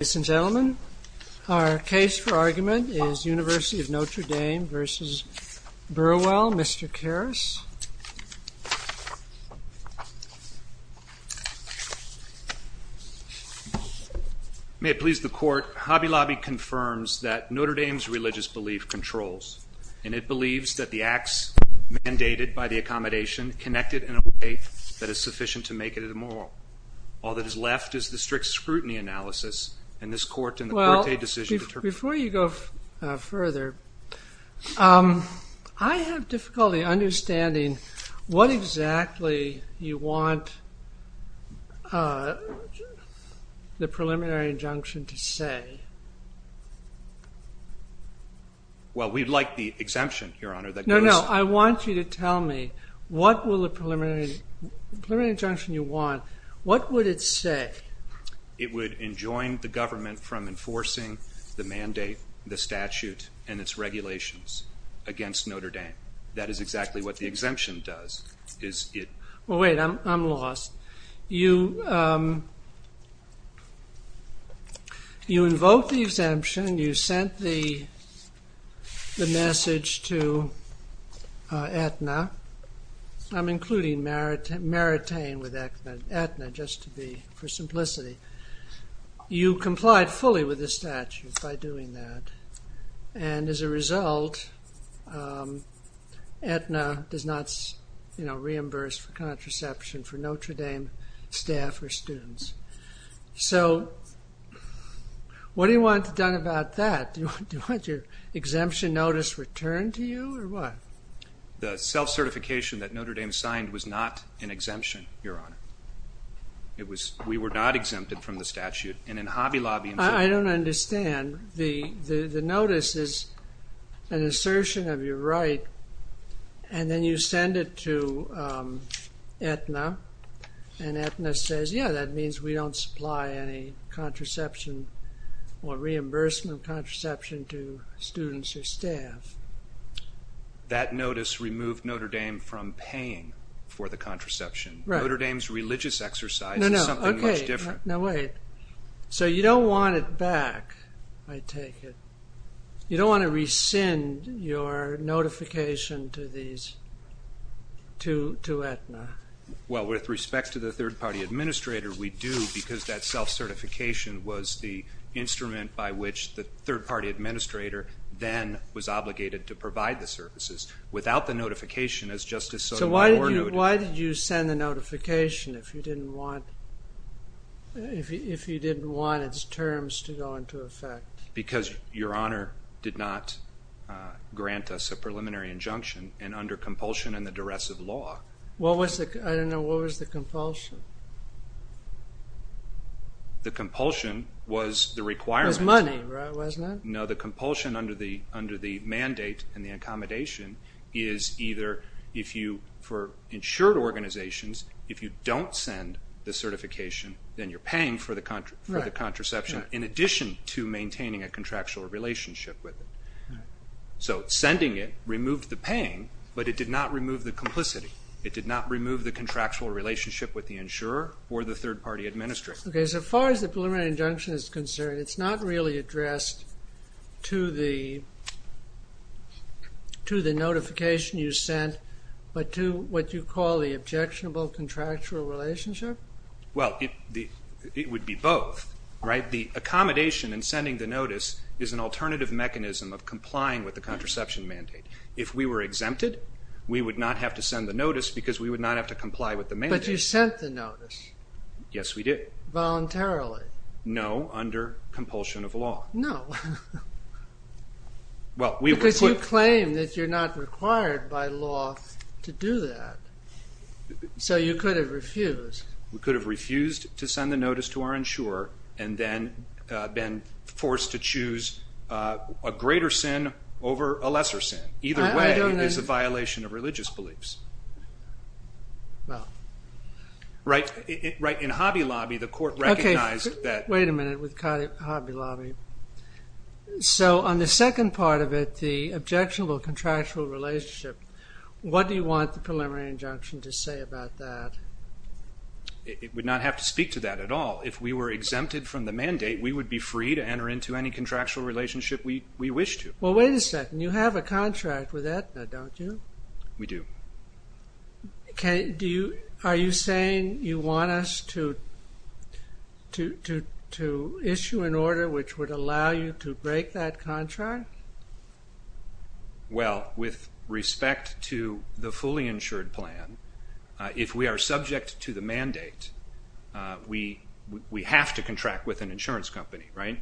Ladies and gentlemen, our case for argument is University of Notre Dame v. Burwell, Mr. Karras. May it please the court, Hobby Lobby confirms that Notre Dame's religious belief controls, and it believes that the acts mandated by the accommodation connect it in a way that is sufficient to make it immoral. All that is left is the strict scrutiny analysis, and this court, in the court-paid decision... Well, before you go further, I have difficulty understanding what exactly you want the preliminary injunction to say. Well, we'd like the exemption, Your Honor. No, no, I want you to tell me what will the preliminary injunction you want, what would it say? It would enjoin the government from enforcing the mandate, the statute, and its regulations against Notre Dame. That is exactly what the exemption does. Well, wait, I'm lost. You invoke the exemption, you sent the message to Aetna, I'm including Maritain with Aetna, just for simplicity. You complied fully with the statute by doing that, and as a result, Aetna does not reimburse for contraception for Notre Dame staff or students. So, what do you want done about that? Do you want your exemption notice returned to you, or what? The self-certification that Notre Dame signed was not an exemption, Your Honor. We were not exempted from the statute, and in Hobby Lobby... I don't understand. The notice is an assertion of your right, and then you send it to Aetna, and Aetna says, yeah, that means we don't supply any contraception or reimbursement of contraception to students or staff. That notice removed Notre Dame from paying for the contraception. Notre Dame's religious exercise is something much different. No, wait. So, you don't want it back, I take it. You don't want to rescind your notification to Aetna. Well, with respect to the third-party administrator, we do, because that self-certification was the instrument by which the third-party administrator then was obligated to provide the services. Without the notification, as Justice Sotomayor noted... Why did you send a notification if you didn't want its terms to go into effect? Because Your Honor did not grant us a preliminary injunction, and under compulsion and the duress of law... I don't know, what was the compulsion? The compulsion was the requirement. It was money, right, wasn't it? No, the compulsion under the mandate and the accommodation is either, for insured organizations, if you don't send the certification, then you're paying for the contraception, in addition to maintaining a contractual relationship with it. So, sending it removed the paying, but it did not remove the complicity. It did not remove the contractual relationship with the insurer or the third-party administrator. Okay, so far as the preliminary injunction is concerned, it's not really addressed to the notification you sent, but to what you call the objectionable contractual relationship? Well, it would be both, right? The accommodation in sending the notice is an alternative mechanism of complying with the contraception mandate. If we were exempted, we would not have to send the notice because we would not have to comply with the mandate. But you sent the notice. Yes, we did. Voluntarily. No, under compulsion of law. No. Well, we would. But you claim that you're not required by law to do that, so you could have refused. We could have refused to send the notice to our insurer and then been forced to choose a greater sin over a lesser sin. Either way, there's a violation of religious beliefs. Well. Right. In Hobby Lobby, the court recognized that. Okay, wait a minute. We've cut Hobby Lobby. So on the second part of it, the objectionable contractual relationship, what do you want the preliminary injunction to say about that? It would not have to speak to that at all. If we were exempted from the mandate, we would be free to enter into any contractual relationship we wish to. Well, wait a second. You have a contract with Aetna, don't you? We do. Are you saying you want us to issue an order which would allow you to break that contract? Well, with respect to the fully insured plan, if we are subject to the mandate, we have to contract with an insurance company, right?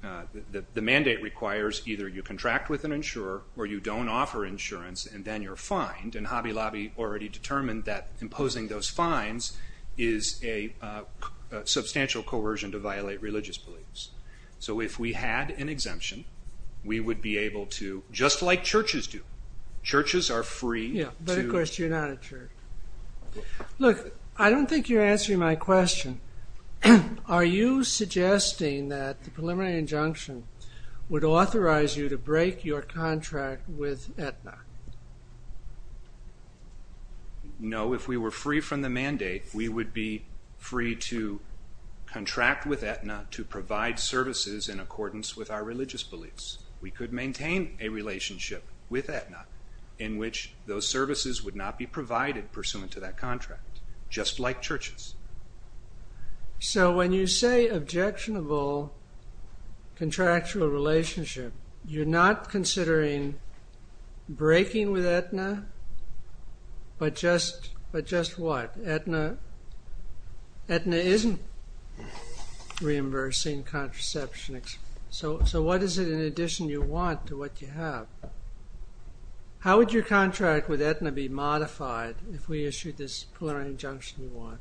The mandate requires either you contract with an insurer or you don't offer insurance and then you're fined. And Hobby Lobby already determined that imposing those fines is a substantial coercion to violate religious beliefs. So if we had an exemption, we would be able to, just like churches do, churches are free to… Yeah, but of course you're not a church. Look, I don't think you're answering my question. Are you suggesting that the preliminary injunction would authorize you to break your contract with Aetna? No, if we were free from the mandate, we would be free to contract with Aetna to provide services in accordance with our religious beliefs. We could maintain a relationship with Aetna in which those services would not be provided pursuant to that contract, just like churches. So when you say objectionable contractual relationship, you're not considering breaking with Aetna, but just what? Aetna isn't reimbursing contraception. So what is it in addition you want to what you have? How would your contract with Aetna be modified if we issued this preliminary injunction you want?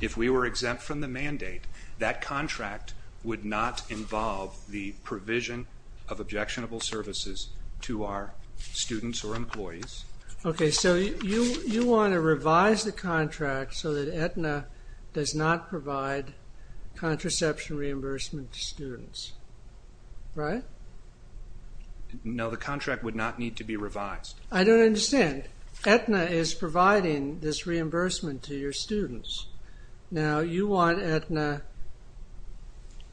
If we were exempt from the mandate, that contract would not involve the provision of objectionable services to our students or employees. Okay, so you want to revise the contract so that Aetna does not provide contraception reimbursement to students, right? No, the contract would not need to be revised. I don't understand. Aetna is providing this reimbursement to your students. Now you want Aetna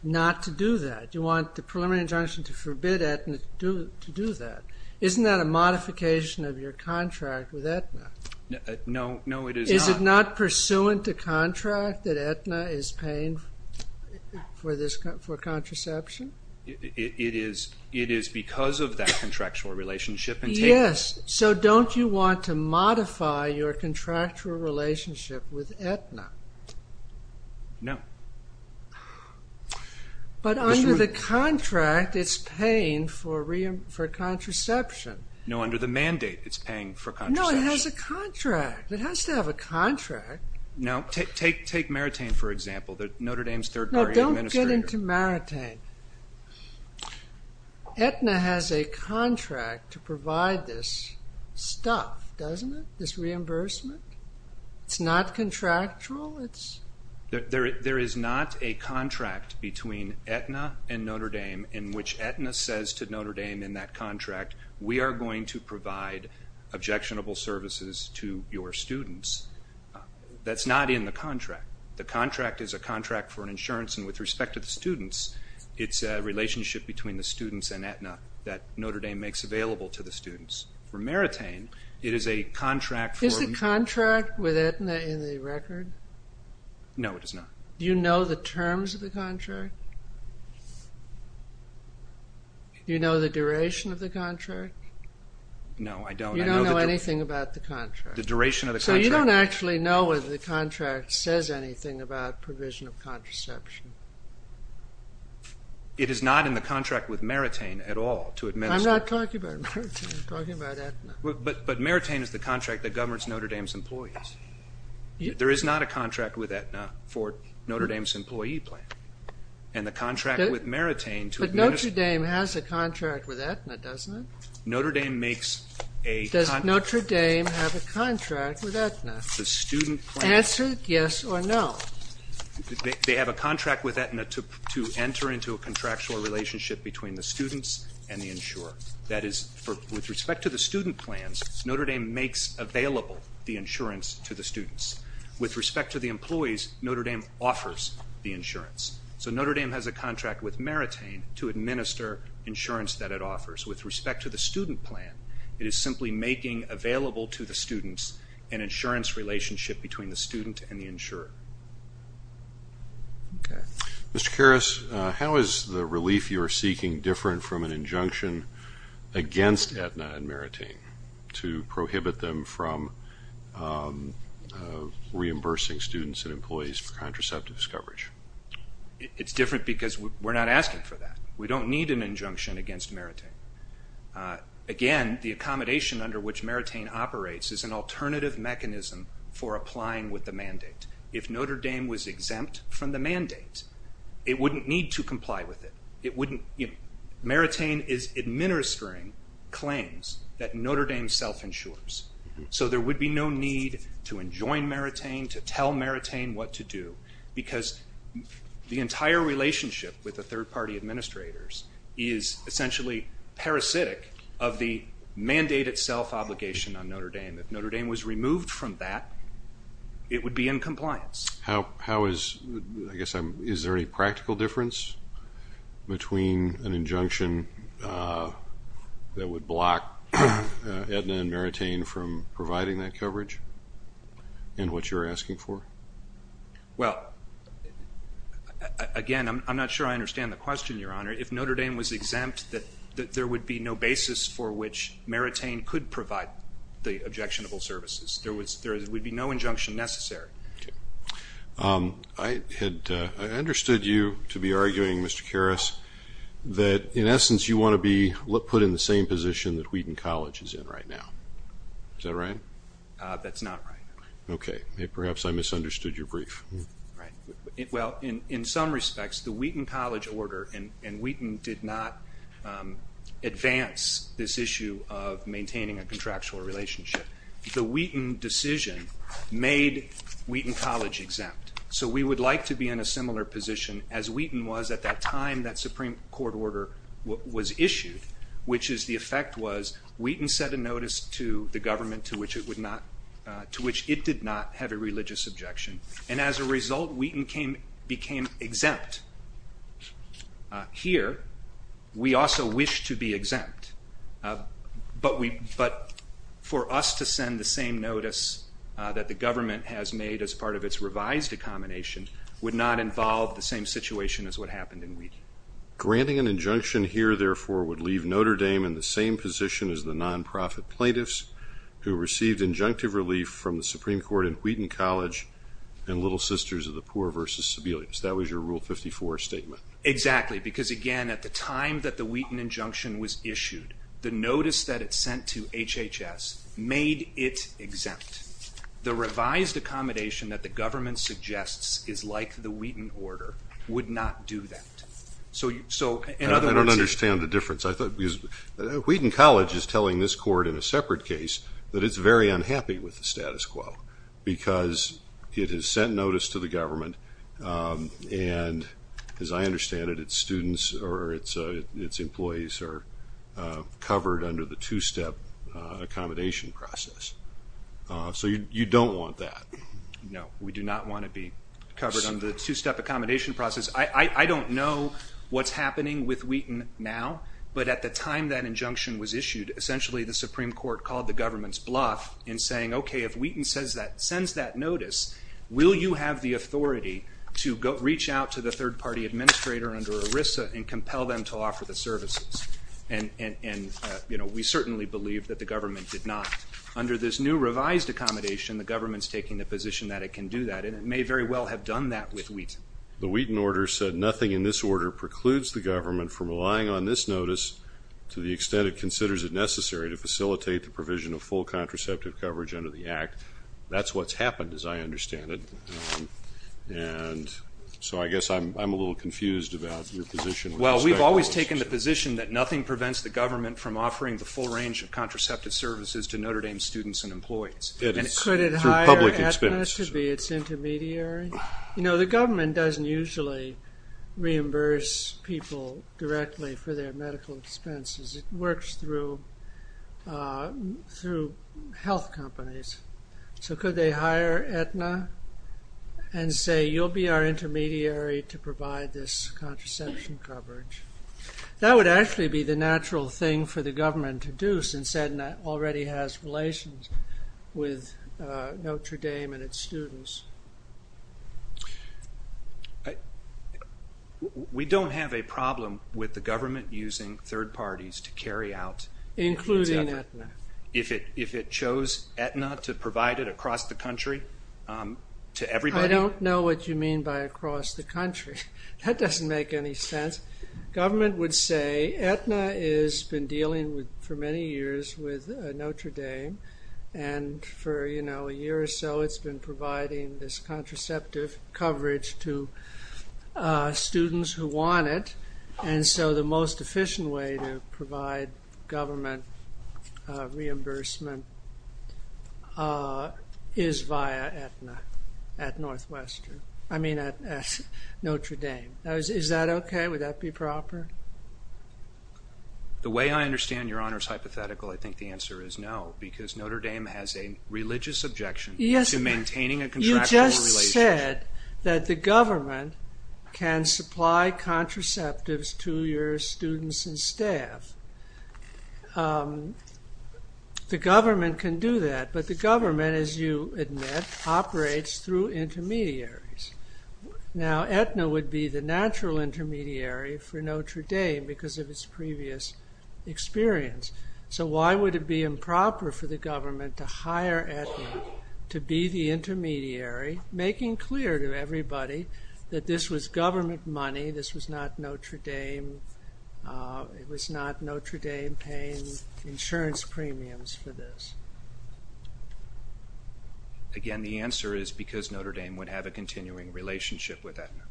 not to do that. You want the preliminary injunction to forbid Aetna to do that. Isn't that a modification of your contract with Aetna? No, it is not. Is it not pursuant to contract that Aetna is paying for contraception? It is because of that contractual relationship. Yes, so don't you want to modify your contractual relationship with Aetna? No. But under the contract it's paying for contraception. No, under the mandate it's paying for contraception. No, it has a contract. It has to have a contract. Now take Maritain for example, Notre Dame's third party administrator. Let's get into Maritain. Aetna has a contract to provide this stuff, doesn't it? This reimbursement? It's not contractual? There is not a contract between Aetna and Notre Dame in which Aetna says to Notre Dame in that contract, we are going to provide objectionable services to your students. That's not in the contract. The contract is a contract for insurance and with respect to the students, it's a relationship between the students and Aetna that Notre Dame makes available to the students. For Maritain, it is a contract for... Is the contract with Aetna in the record? No, it is not. Do you know the terms of the contract? Do you know the duration of the contract? No, I don't. You don't know anything about the contract? The duration of the contract... I don't know anything about provision of contraception. It is not in the contract with Maritain at all to administer... I'm not talking about Maritain, I'm talking about Aetna. But Maritain is the contract that governs Notre Dame's employees. There is not a contract with Aetna for Notre Dame's employee plan. And the contract with Maritain... But Notre Dame has a contract with Aetna, doesn't it? Notre Dame makes a... Does Notre Dame have a contract with Aetna? Answer yes or no. They have a contract with Aetna to enter into a contractual relationship between the students and the insurer. That is, with respect to the student plans, Notre Dame makes available the insurance to the students. With respect to the employees, Notre Dame offers the insurance. So Notre Dame has a contract with Maritain to administer insurance that it offers. With respect to the student plan, it is simply making available to the students an insurance relationship between the student and the insurer. Mr. Karras, how is the relief you are seeking different from an injunction against Aetna and Maritain to prohibit them from reimbursing students and employees for contraceptive discovery? It's different because we're not asking for that. We don't need an injunction against Maritain. Again, the accommodation under which Maritain operates is an alternative mechanism for applying with the mandate. If Notre Dame was exempt from the mandate, it wouldn't need to comply with it. Maritain is administering claims that Notre Dame self-insures. So there would be no need to enjoin Maritain, to tell Maritain what to do, because the entire relationship with the third-party administrators If Notre Dame was removed from that, it would be in compliance. Is there any practical difference between an injunction that would block Aetna and Maritain from providing that coverage and what you're asking for? Again, I'm not sure I understand the question, Your Honor. If Notre Dame was exempt, there would be no basis for which Maritain could provide the objectionable services. There would be no injunction necessary. I understood you to be arguing, Mr. Karras, that in essence you want to be put in the same position that Wheaton College is in right now. Is that right? That's not right. Okay. Perhaps I misunderstood your brief. Well, in some respects, the Wheaton College order and Wheaton did not advance this issue of maintaining a contractual relationship. The Wheaton decision made Wheaton College exempt. So we would like to be in a similar position as Wheaton was at that time that Supreme Court order was issued, which is the effect was Wheaton set a notice to the government to which it did not have a religious objection, and as a result, Wheaton became exempt. Here, we also wish to be exempt, but for us to send the same notice that the government has made as part of its revised accommodation would not involve the same situation as what happened in Wheaton. Granting an injunction here, therefore, would leave Notre Dame in the same position as the nonprofit plaintiffs who received injunctive relief from the Supreme Court in Wheaton College and Little Sisters of the Poor versus Sibelius. That was your Rule 54 statement. Exactly, because, again, at the time that the Wheaton injunction was issued, the notice that it sent to HHS made it exempt. The revised accommodation that the government suggests is like the Wheaton order would not do that. I don't understand the difference. Wheaton College is telling this court in a separate case that it's very unhappy with the status quo because it has sent notice to the government, and as I understand it, its students or its employees are covered under the two-step accommodation process. So you don't want that. No, we do not want to be covered under the two-step accommodation process. I don't know what's happening with Wheaton now, but at the time that injunction was issued, essentially the Supreme Court called the government's bluff in saying, okay, if Wheaton sends that notice, will you have the authority to reach out to the third-party administrator under ERISA and compel them to offer the services? And we certainly believe that the government did not. Under this new revised accommodation, the government's taking the position that it can do that, and it may very well have done that with Wheaton. The Wheaton order said, nothing in this order precludes the government from relying on this notice to the extent it considers it necessary to facilitate the provision of full contraceptive coverage under the Act. That's what's happened, as I understand it. And so I guess I'm a little confused about your position. Well, we've always taken the position that nothing prevents the government from offering the full range of contraceptive services to Notre Dame students and employees. And could it hire ETHNAS to be its intermediary? You know, the government doesn't usually reimburse people directly for their medical expenses. It works through health companies. So could they hire ETHNA and say, you'll be our intermediary to provide this contraception coverage? That would actually be the natural thing for the government to do, since ETHNA already has relations with Notre Dame and its students. We don't have a problem with the government using third parties to carry out... Including ETHNA. If it chose ETHNA to provide it across the country to everybody? I don't know what you mean by across the country. That doesn't make any sense. Government would say, ETHNA has been dealing for many years with Notre Dame, and for, you know, a year or so, it's been providing this contraceptive coverage to students who want it. And so the most efficient way to provide government reimbursement is via ETHNA at Notre Dame. Is that okay? Would that be proper? The way I understand Your Honor's hypothetical, I think the answer is no, because Notre Dame has a religious objection to maintaining a contractual relationship. You just said that the government can supply contraceptives to your students and staff. The government can do that, but the government, as you admit, operates through intermediaries. Now, ETHNA would be the natural intermediary for Notre Dame because of its previous experience. So why would it be improper for the government to hire ETHNA to be the intermediary, making clear to everybody that this was government money, this was not Notre Dame, it was not Notre Dame paying insurance premiums for this? Again, the answer is because Notre Dame would have a continuing relationship with ETHNA.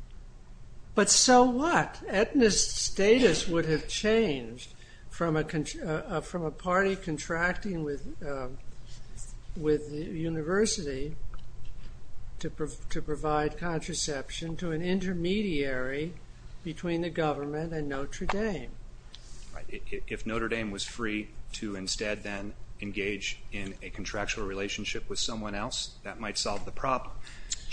But so what? ETHNA's status would have changed from a party contracting with the university to provide contraception to an intermediary between the government and Notre Dame. If Notre Dame was free to instead then engage in a contractual relationship with someone else, that might solve the problem.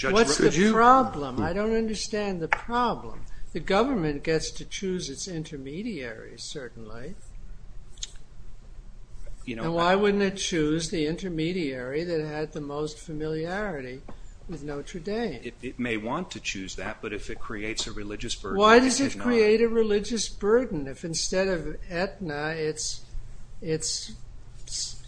What's the problem? I don't understand the problem. The government gets to choose its intermediaries, certainly. Why wouldn't it choose the intermediary that had the most familiarity with Notre Dame? It may want to choose that, but if it creates a religious burden... Why does it create a religious burden if instead of ETHNA it's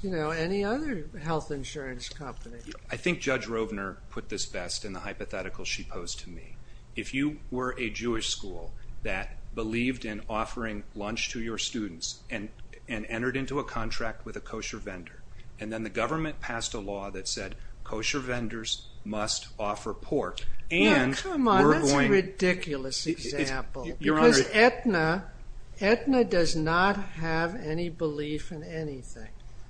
any other health insurance company? I think Judge Robner put this best in the hypothetical she posed to me. If you were a Jewish school that believed in offering lunch to your students and entered into a contract with a kosher vendor, and then the government passed a law that said kosher vendors must offer pork... Come on, that's a ridiculous example. Because ETHNA does not have any belief in anything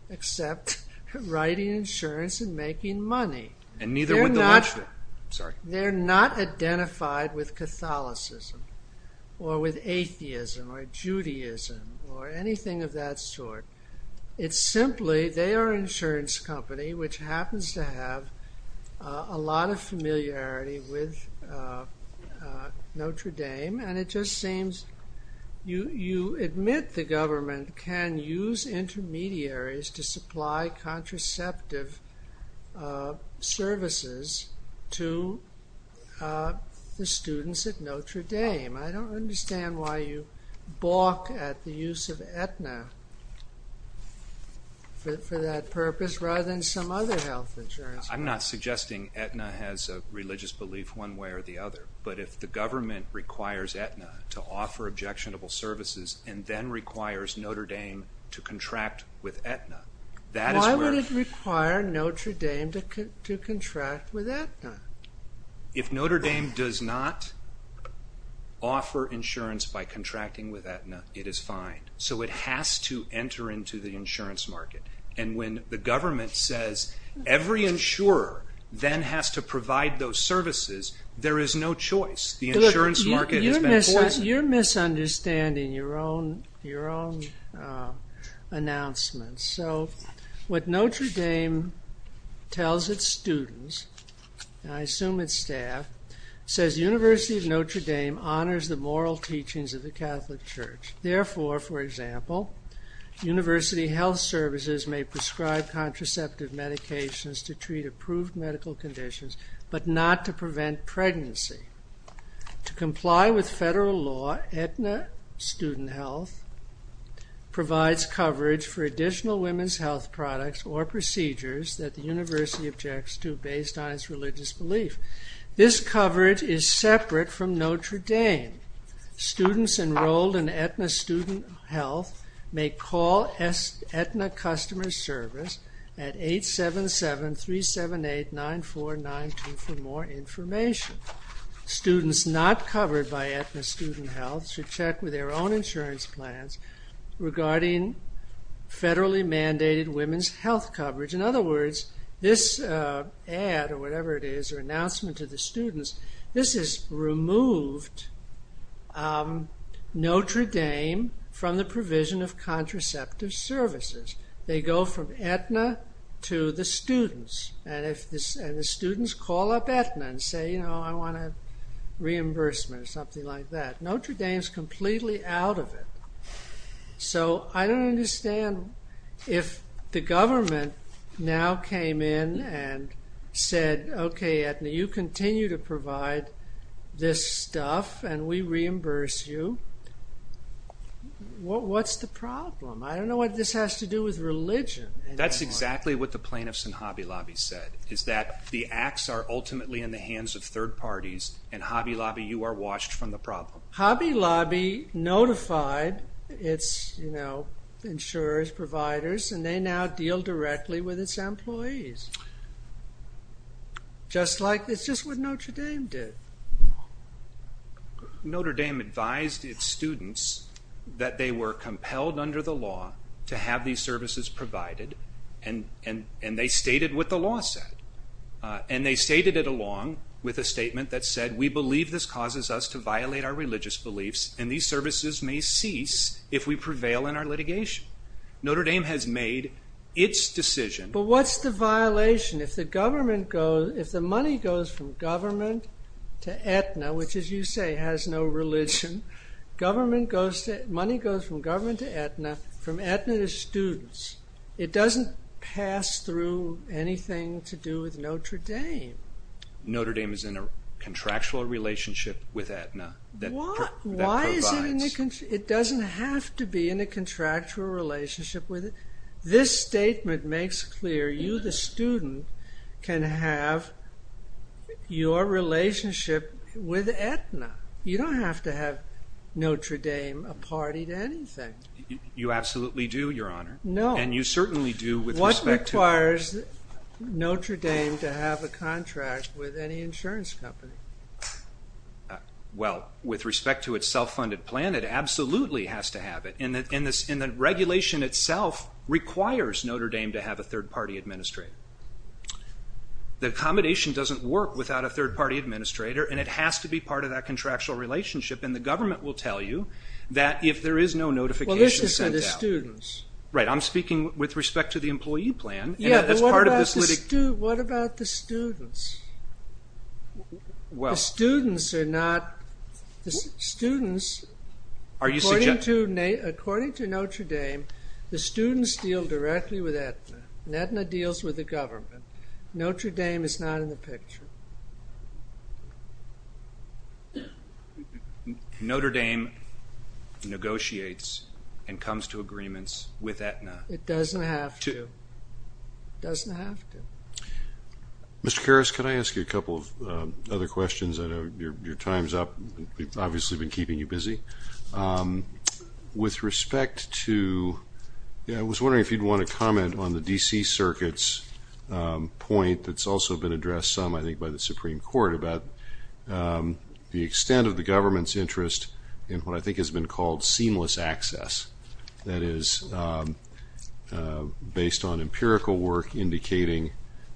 except writing insurance and making money. And neither would the lunch vendor. They're not identified with Catholicism or with atheism or Judaism or anything of that sort. It's simply they are an insurance company which happens to have a lot of familiarity with Notre Dame. And it just seems you admit the government can use intermediaries to supply contraceptive services to the students at Notre Dame. I don't understand why you balk at the use of ETHNA for that purpose rather than some other health insurance company. I'm not suggesting ETHNA has a religious belief one way or the other. But if the government requires ETHNA to offer objectionable services and then requires Notre Dame to contract with ETHNA... Why would it require Notre Dame to contract with ETHNA? If Notre Dame does not offer insurance by contracting with ETHNA, it is fine. So it has to enter into the insurance market. And when the government says every insurer then has to provide those services, there is no choice. You're misunderstanding your own announcements. So what Notre Dame tells its students, and I assume its staff, says the University of Notre Dame honors the moral teachings of the Catholic Church. Therefore, for example, university health services may prescribe contraceptive medications to treat approved medical conditions but not to prevent pregnancy. To comply with federal law, ETHNA student health provides coverage for additional women's health products or procedures that the university objects to based on its religious belief. This coverage is separate from Notre Dame. Students enrolled in ETHNA student health may call ETHNA customer service at 877-378-9492 for more information. Students not covered by ETHNA student health should check with their own insurance plans regarding federally mandated women's health coverage. In other words, this ad or whatever it is or announcement to the students, this has removed Notre Dame from the provision of contraceptive services. They go from ETHNA to the students. And the students call up ETHNA and say, you know, I want a reimbursement or something like that. Notre Dame is completely out of it. So I don't understand if the government now came in and said, okay, ETHNA, you continue to provide this stuff and we reimburse you. What's the problem? I don't know what this has to do with religion. That's exactly what the plaintiffs in Hobby Lobby said is that the acts are ultimately in the hands of third parties and Hobby Lobby, you are washed from the problem. Hobby Lobby notified its, you know, insurance providers and they now deal directly with its employees. Just like, it's just what Notre Dame did. Notre Dame advised its students that they were compelled under the law to have these services provided and they stated what the law said. And they stated it along with a statement that said, we believe this causes us to violate our religious beliefs and these services may cease if we prevail in our litigation. Notre Dame has made its decision. But what's the violation if the government goes, if the money goes from government to ETHNA, which as you say has no religion, money goes from government to ETHNA, from ETHNA to students. It doesn't pass through anything to do with Notre Dame. Notre Dame is in a contractual relationship with ETHNA. Why is it in a, it doesn't have to be in a contractual relationship with it. This statement makes clear you the student can have your relationship with ETHNA. You don't have to have Notre Dame a party to anything. You absolutely do, your honor. No. And you certainly do with respect to... What requires Notre Dame to have a contract with any insurance company? Well, with respect to its self-funded plan, it absolutely has to have it. And the regulation itself requires Notre Dame to have a third party administrator. The accommodation doesn't work without a third party administrator and it has to be part of that contractual relationship and the government will tell you that if there is no notification sent out. Well, this is for the students. Right, I'm speaking with respect to the employee plan. Yeah, but what about the students? Well... The students are not, the students... Are you suggesting... According to Notre Dame, the students deal directly with ETHNA and ETHNA deals with the government. Notre Dame is not in the picture. Notre Dame negotiates and comes to agreements with ETHNA. It doesn't have to. It doesn't have to. Mr. Harris, can I ask you a couple of other questions? I know your time's up. We've obviously been keeping you busy. With respect to... I was wondering if you'd want to comment on the D.C. Circuit's point that's also been addressed some, I think, by the Supreme Court about the extent of the government's interest in what I think has been called seamless access. That is, based on empirical work indicating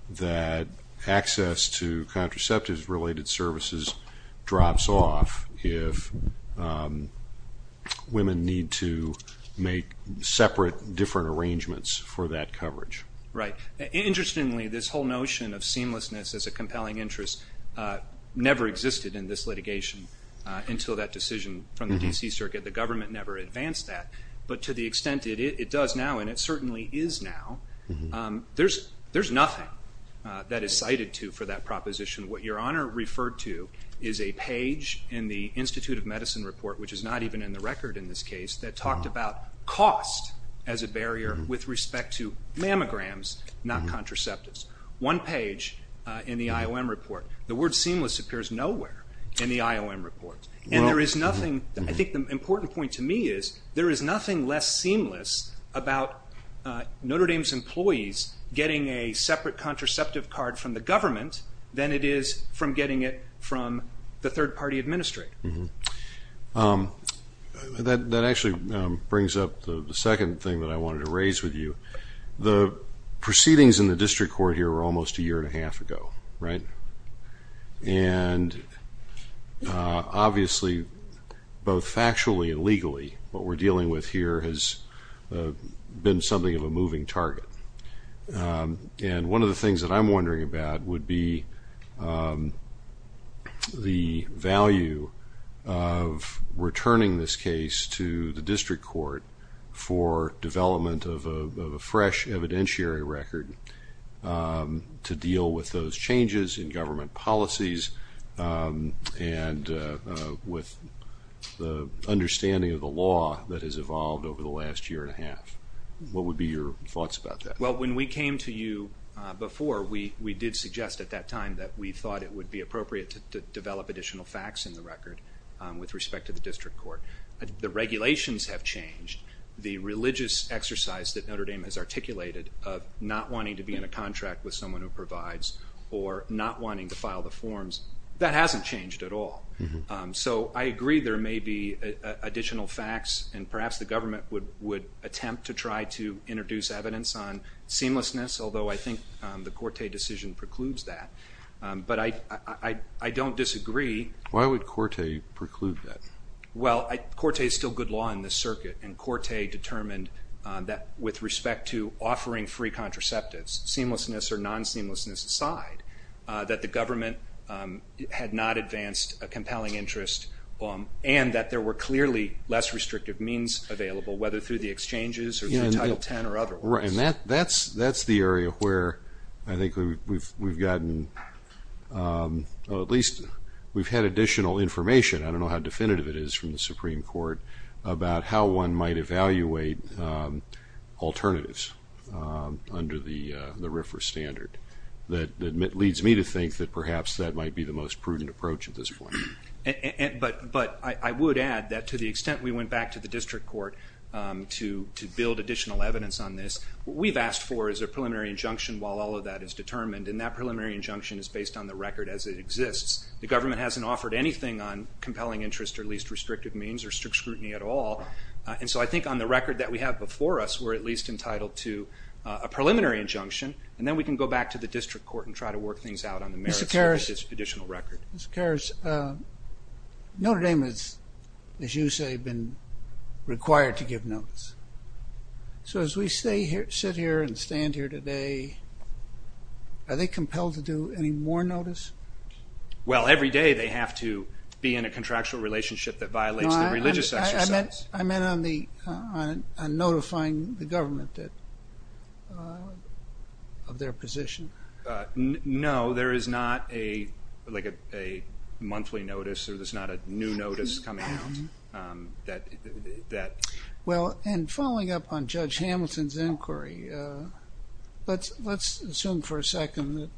that access to contraceptive-related services drops off if women need to make separate different arrangements for that coverage. Right. Interestingly, this whole notion of seamlessness as a compelling interest never existed in this litigation until that decision from the D.C. Circuit. The government never advanced that. But to the extent it does now, and it certainly is now, there's nothing that is cited to for that proposition. What Your Honor referred to is a page in the Institute of Medicine report, which is not even in the record in this case, that talked about cost as a barrier with respect to mammograms, not contraceptives. One page in the IOM report. The word seamless appears nowhere in the IOM report. And there is nothing... I think the important point to me is there is nothing less seamless about Notre Dame's employees getting a separate contraceptive card from the government than it is from getting it from the third-party administrator. That actually brings up the second thing that I wanted to raise with you. The proceedings in the district court here were almost a year and a half ago, right? And obviously, both factually and legally, what we're dealing with here has been something of a moving target. And one of the things that I'm wondering about would be the value of returning this case to the district court for development of a fresh evidentiary record to deal with those changes in government policies and with the understanding of the law that has evolved over the last year and a half. What would be your thoughts about that? Well, when we came to you before, we did suggest at that time that we thought it would be appropriate to develop additional facts in the record with respect to the district court. The regulations have changed. The religious exercise that Notre Dame has articulated of not wanting to be in a contract with someone who provides or not wanting to file the forms, that hasn't changed at all. So I agree there may be additional facts and perhaps the government would attempt to try to introduce evidence on seamlessness, although I think the Corte decision precludes that. But I don't disagree. Why would Corte preclude that? Well, Corte is still good law in this circuit, and Corte determined that with respect to offering free contraceptives, seamlessness or non-seamlessness aside, that the government had not advanced a compelling interest and that there were clearly less restrictive means available, whether through the exchanges or Title X or other ways. And that's the area where I think we've gotten, or at least we've had additional information. I don't know how definitive it is from the Supreme Court about how one might evaluate alternatives under the RFRA standard. That leads me to think that perhaps that might be the most prudent approach at this point. But I would add that to the extent we went back to the district court to build additional evidence on this, what we've asked for is a preliminary injunction while all of that is determined, and that preliminary injunction is based on the record as it exists. The government hasn't offered anything on compelling interest or at least restrictive means or strict scrutiny at all. And so I think on the record that we have before us, we're at least entitled to a preliminary injunction, and then we can go back to the district court and try to work things out on the merits of this additional record. Mr. Karas, Notre Dame has, as you say, been required to give notes. So as we sit here and stand here today, are they compelled to do any more notice? Well, every day they have to be in a contractual relationship that violates the religious exercise. I meant on notifying the government of their position. No, there is not a monthly notice or there's not a new notice coming out that... Well, and following up on Judge Hamilton's inquiry, let's assume for a second that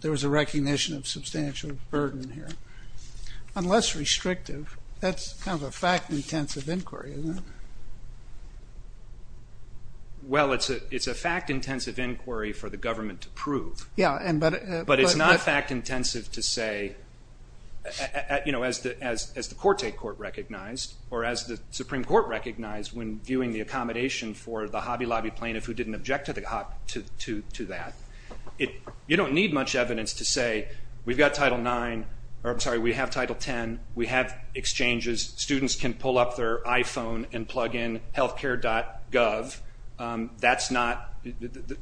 there was a recognition of substantial burden here. Unless restrictive, that's kind of a fact-intensive inquiry, isn't it? Well, it's a fact-intensive inquiry for the government to prove. Yeah, and but... But it's not a fact-intensive to say, you know, as the Quartet Court recognized or as the Supreme Court recognized when viewing the accommodation for the Hobby Lobby plaintiff who didn't object to that. You don't need much evidence to say, we've got Title IX, or I'm sorry, we have Title X, we have exchanges, students can pull up their iPhone and plug in healthcare.gov. That's not...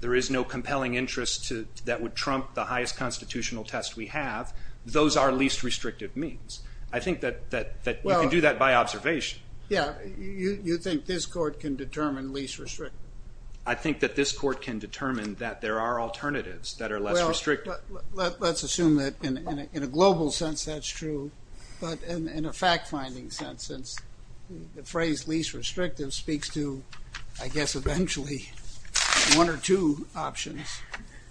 There is no compelling interest that would trump the highest constitutional test we have. Those are least restrictive means. I think that we can do that by observation. Yeah, you think this court can determine least restrictive? I think that this court can determine that there are alternatives that are less restrictive. Well, let's assume that in a global sense that's true, but in a fact-finding sense, the phrase least restrictive speaks to, I guess, eventually one or two options.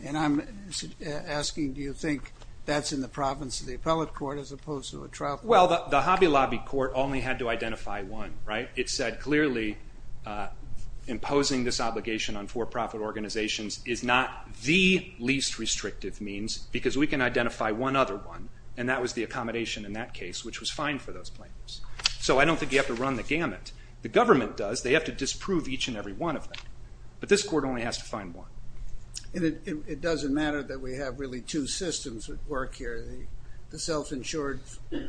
And I'm asking, do you think that's in the province of the appellate court as opposed to a trial court? Well, the Hobby Lobby court only had to identify one, right? It said clearly imposing this obligation on for-profit organizations is not the least restrictive means because we can identify one other one, and that was the accommodation in that case, which was fine for those plaintiffs. So I don't think you have to run the gamut. The government does. They have to disprove each and every one of them. But this court only has to find one. It doesn't matter that we have really two systems at work here, the self-insured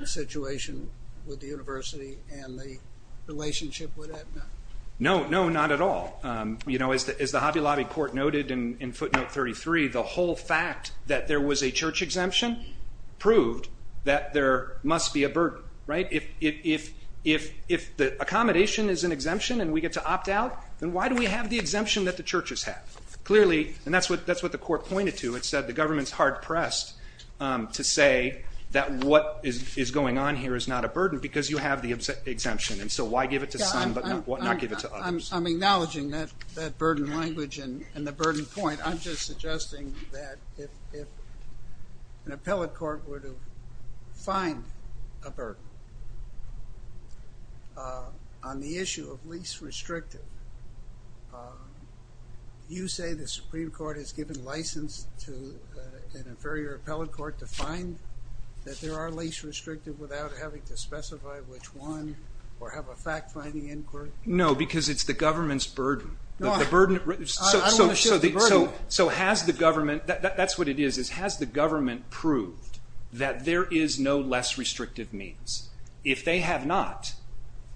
situation with the university and the relationship with Aetna. No, no, not at all. You know, as the Hobby Lobby court noted in footnote 33, the whole fact that there was a church exemption proved that there must be a burden, right? If the accommodation is an exemption and we get to opt out, then why do we have the exemption that the churches have? Clearly, and that's what the court pointed to. It said the government's hard-pressed to say that what is going on here is not a burden because you have the exemption. And so why give it to some but not give it to others? I'm acknowledging that burden language and the burden point. I'm just suggesting that if an appellate court were to find a burden on the issue of least restrictive, you say the Supreme Court has given license to an inferior appellate court to find that there are least restrictive without having to specify which one or have a fact-finding inquiry? No, because it's the government's burden. So has the government... That's what it is, is has the government proved that there is no less restrictive means? If they have not,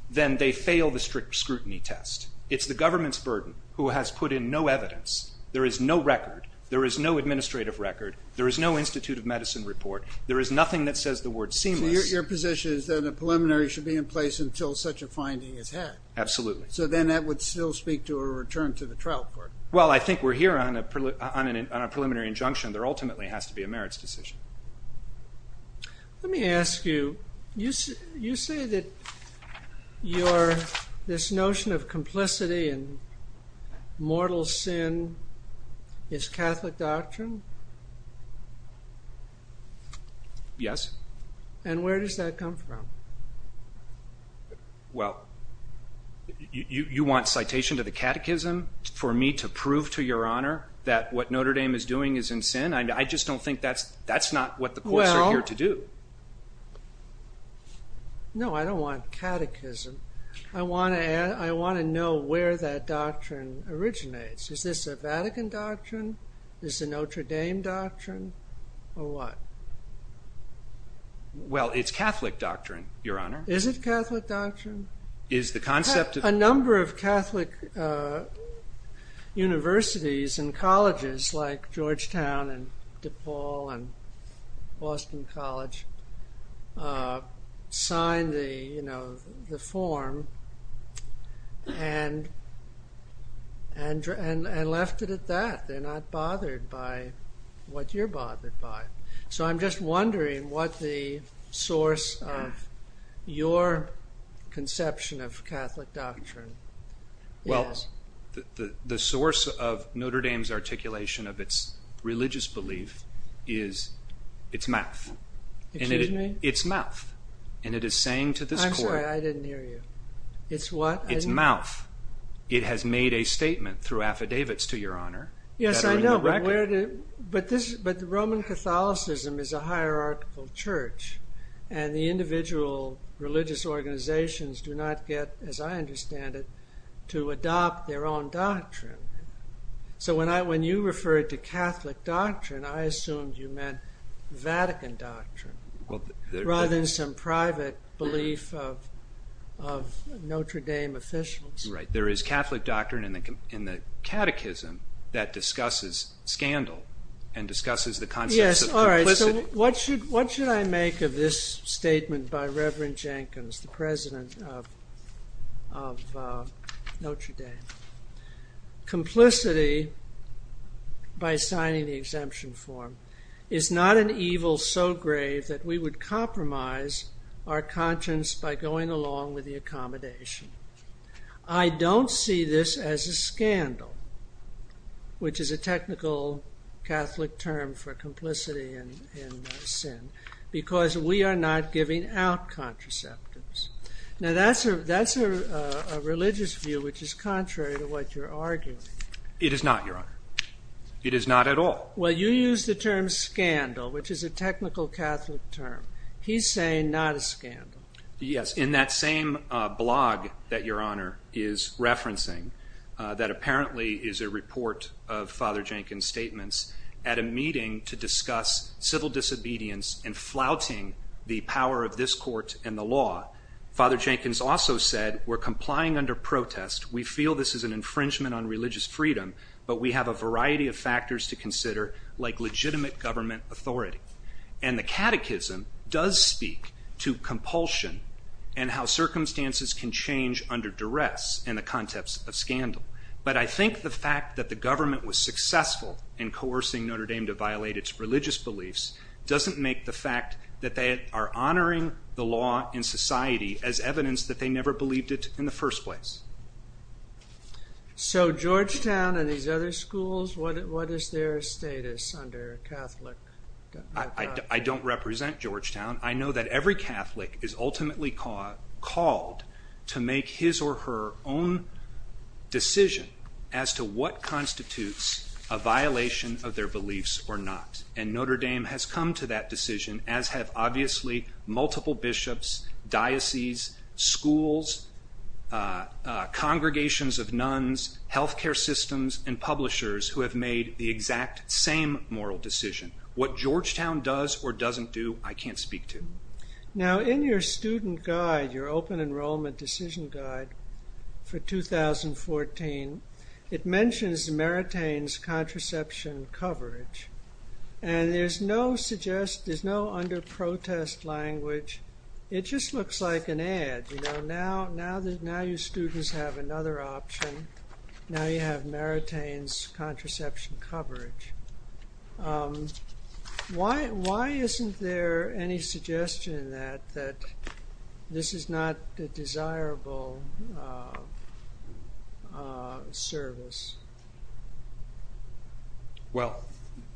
then they fail the strict scrutiny test. It's the government's burden who has put in no evidence. There is no record. There is no administrative record. There is no Institute of Medicine report. There is nothing that says the word seamless. So your position is that a preliminary should be in place until such a finding is had? Absolutely. So then that would still speak to a return to the trial court? Well, I think we're here on a preliminary injunction. There ultimately has to be a merits decision. Let me ask you, you say that this notion of complicity and mortal sin is Catholic doctrine? Yes. And where does that come from? Well, you want citation to the catechism for me to prove to Your Honor that what Notre Dame is doing is in sin? I just don't think that's what the courts are here to do. No, I don't want catechism. I want to know where that doctrine originates. Is this a Vatican doctrine? Is it a Notre Dame doctrine? Or what? Well, it's Catholic doctrine, Your Honor. Is it Catholic doctrine? A number of Catholic universities and colleges like Georgetown and DePaul and Boston College signed the form and left it at that. They're not bothered by what you're bothered by. So I'm just wondering what the source of your conception of Catholic doctrine is. The source of Notre Dame's articulation of its religious belief is its mouth. Excuse me? Its mouth. And it is saying to this court... I'm sorry, I didn't hear you. Its what? Its mouth. It has made a statement through affidavits to Your Honor. Yes, I know, but Roman Catholicism is a hierarchical church and the individual religious organizations do not get, as I understand it, to adopt their own doctrine. So when you referred to Catholic doctrine, I assumed you meant Vatican doctrine, rather than some private belief of Notre Dame officials. Right. There is Catholic doctrine in the catechism that discusses scandal and discusses the concepts of complicity. Yes, all right. So what should I make of this statement by Reverend Jenkins, the president of Notre Dame? Complicity, by signing the exemption form, is not an evil so great that we would compromise our conscience by going along with the accommodation. I don't see this as a scandal, which is a technical Catholic term for complicity in sin, because we are not giving out contraceptives. Now that's a religious view which is contrary to what you're arguing. It is not, Your Honor. It is not at all. Well, you used the term scandal, which is a technical Catholic term. He's saying not a scandal. Yes, in that same blog that Your Honor is referencing, that apparently is a report of Father Jenkins' statements, at a meeting to discuss civil disobedience and flouting the power of this court and the law. Father Jenkins also said, we're complying under protest. We feel this is an infringement on religious freedom, but we have a variety of factors to consider, like legitimate government authority. And the catechism does speak to compulsion and how circumstances can change under duress in the context of scandal. But I think the fact that the government was successful in coercing Notre Dame to violate its religious beliefs doesn't make the fact that they are honoring the law in society as evidence that they never believed it in the first place. So Georgetown and these other schools, what is their status under Catholic? I don't represent Georgetown. I know that every Catholic is ultimately called to make his or her own decision as to what constitutes a violation of their beliefs or not. And Notre Dame has come to that decision, as have obviously multiple bishops, dioceses, schools, congregations of nuns, health care systems, and publishers who have made the exact same moral decision. What Georgetown does or doesn't do, I can't speak to. Now in your student guide, your open enrollment decision guide for 2014, it mentions the Maritain's contraception coverage. And there's no under-protest language. It just looks like an ad. Now your students have another option. Now you have Maritain's contraception coverage. Why isn't there any suggestion that this is not the desirable service? Well,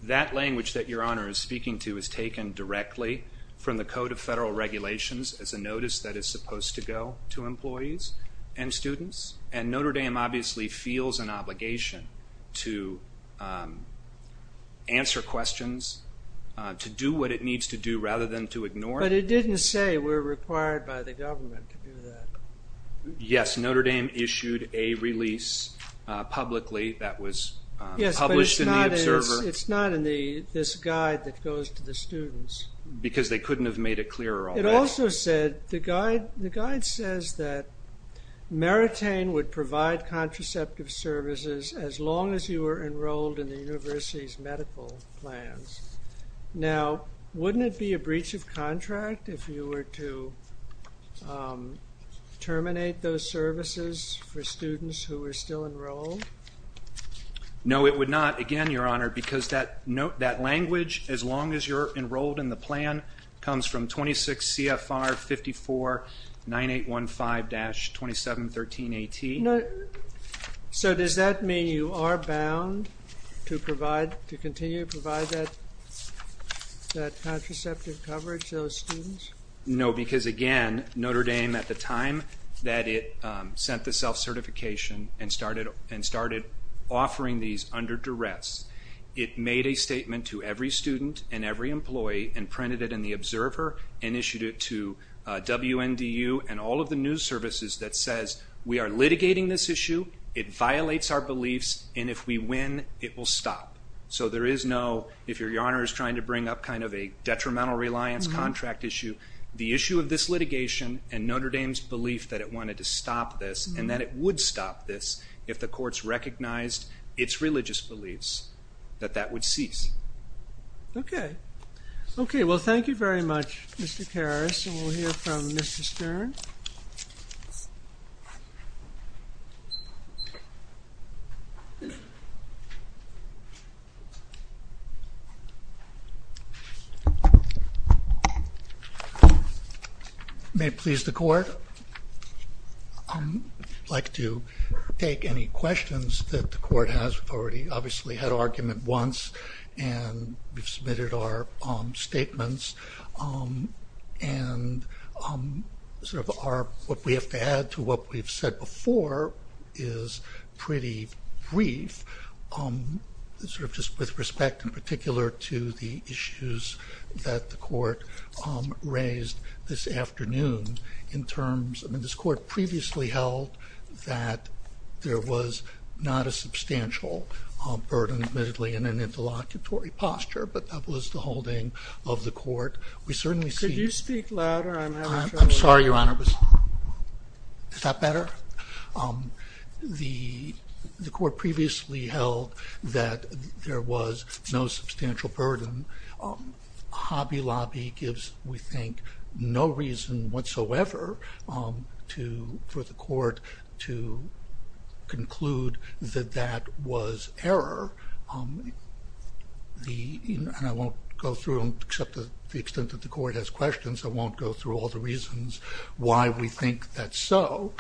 that language that Your Honor is speaking to is taken directly from the Code of Federal Regulations as a notice that is supposed to go to employees and students. And Notre Dame obviously feels an obligation to answer questions, to do what it needs to do rather than to ignore it. But it didn't say we're required by the government to do that. Yes, Notre Dame issued a release publicly that was published in the Observer. Yes, but it's not in this guide that goes to the students. Because they couldn't have made it clearer all that. It also said, the guide says that Maritain would provide contraceptive services as long as you were enrolled in the university's medical plans. Now, wouldn't it be a breach of contract if you were to terminate those services for students who were still enrolled? No, it would not. Again, Your Honor, because that language, as long as you're enrolled in the plan, comes from 26 CFR 549815-2713AT. So does that mean you are bound to continue to provide that contraceptive coverage to those students? No, because again, Notre Dame at the time that it sent the self-certification and started offering these under duress, it made a statement to every student and every employee and printed it in the Observer and issued it to WNDU and all of the news services that says we are litigating this issue, it violates our beliefs, and if we win, it will stop. So there is no, if Your Honor is trying to bring up kind of a detrimental reliance contract issue, the issue of this litigation and Notre Dame's belief that it wanted to stop this and that it would stop this if the courts recognized its religious beliefs that that would cease. Okay. Okay, well, thank you very much, Mr. Karras, and we'll hear from Mr. Stern. Thank you. May it please the court? I'd like to take any questions that the court has. We've already obviously had argument once, and we've submitted our statements, and sort of our, what we have to add to what we've said before is pretty brief. Sort of just with respect in particular to the issues that the court raised this afternoon in terms, I mean, this court previously held that there was not a substantial burden, admittedly, in an interlocutory posture, but that was the holding of the court. Could you speak louder? I'm sorry, Your Honor. Is that better? The court previously held that there was no substantial burden. Hobby Lobby gives, we think, no reason whatsoever for the court to conclude that that was error. And I won't go through, except to the extent that the court has questions, I won't go through all the reasons why we think that's so.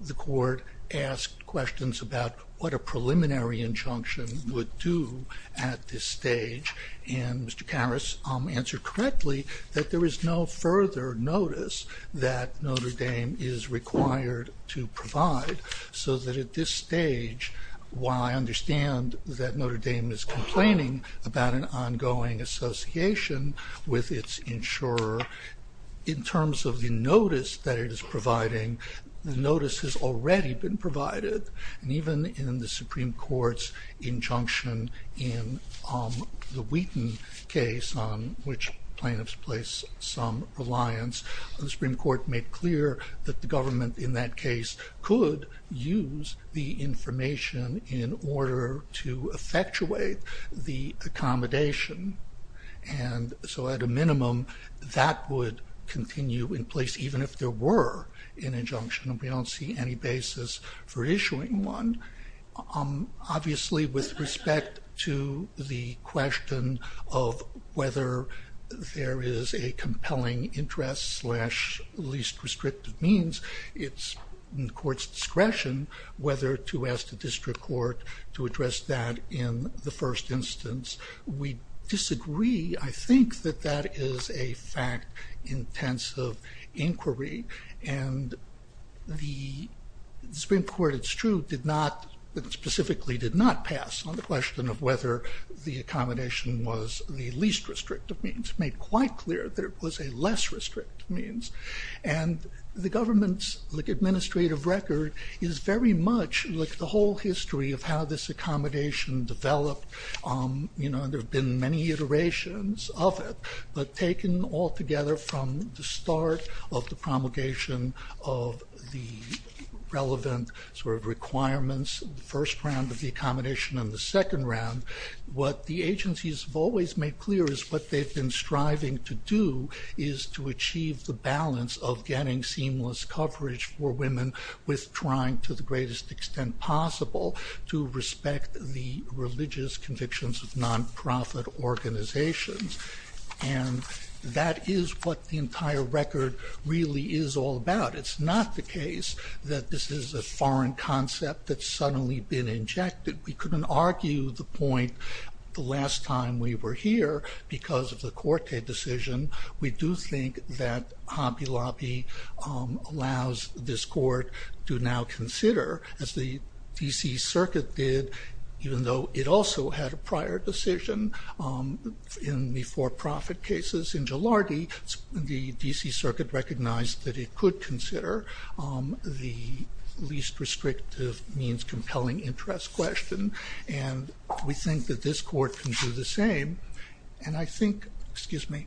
The court asked questions about what a preliminary injunction would do at this stage, and Mr. Parris answered correctly that there is no further notice that Notre Dame is required to provide, so that at this stage, while I understand that Notre Dame is complaining about an ongoing association with its insurer, in terms of the notice that it is providing, the notice has already been provided, and even in the Supreme Court's injunction in the Wheaton case, on which plaintiffs place some reliance, the Supreme Court made clear that the government in that case could use the information in order to effectuate the accommodation, and so at a minimum, that would continue in place, even if there were an injunction, and we don't see any basis for issuing one. Obviously, with respect to the question of whether there is a compelling interest slash least restrictive means, it's in court's discretion whether to ask the district court to address that in the first instance. We disagree. I think that that is a fact-intensive inquiry, and the Supreme Court, it's true, specifically did not pass on the question of whether the accommodation was the least restrictive means, made quite clear that it was a less restrictive means, and the government's administrative record is very much the whole history of how this accommodation developed. You know, there have been many iterations of it, but taken all together from the start of the promulgation of the relevant sort of requirements, the first round of the accommodation and the second round, what the agencies have always made clear is what they've been striving to do is to achieve the balance of getting seamless coverage for women with trying to the greatest extent possible to respect the religious convictions of nonprofit organizations, and that is what the entire record really is all about. It's not the case that this is a foreign concept that's suddenly been injected. We couldn't argue the point the last time we were here because of the Corte decision. We do think that Hobby Lobby allows this court to now consider, as the D.C. Circuit did, even though it also had a prior decision in the for-profit cases in Jilardi, the D.C. Circuit recognized that it could consider the least restrictive means compelling interest question, and we think that this court can do the same, and I think, excuse me,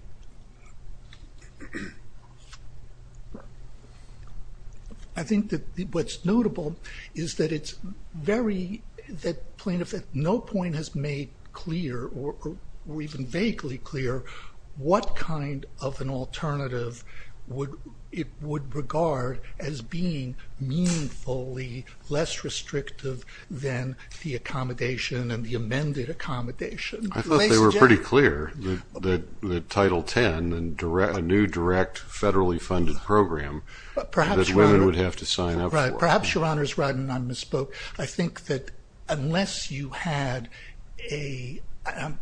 I think that what's notable is that it's very, that plaintiff at no point has made clear or even vaguely clear what kind of an alternative it would regard as being meaningfully less restrictive than the accommodation and the amended accommodation. I thought they were pretty clear that Title 10, a new, direct, federally funded program that women would have to sign up for. Right, perhaps Your Honor is right, and I misspoke. I think that unless you had a, I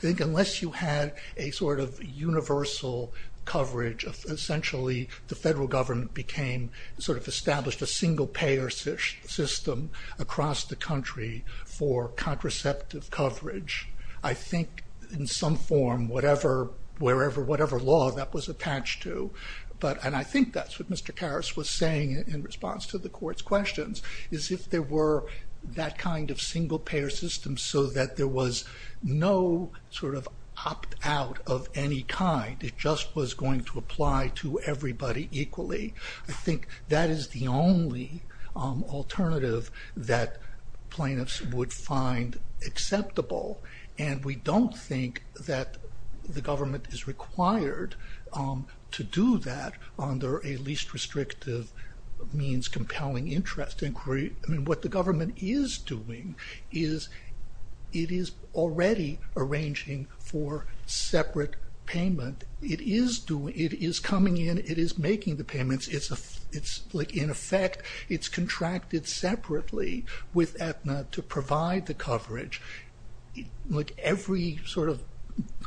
think unless you had a sort of universal coverage, essentially the federal government became sort of established a single-payer system across the country for contraceptive coverage. I think in some form, whatever, wherever, whatever law that was attached to, and I think that's what Mr. Karas was saying in response to the court's questions, is if there were that kind of single-payer system so that there was no sort of opt-out of any kind, it just was going to apply to everybody equally. I think that is the only alternative that plaintiffs would find acceptable, and we don't think that the government is required to do that under a least restrictive means compelling interest inquiry. What the government is doing is it is already arranging for separate payment. It is coming in. It is making the payments. In effect, it's contracted separately with Aetna to provide the coverage. Every sort of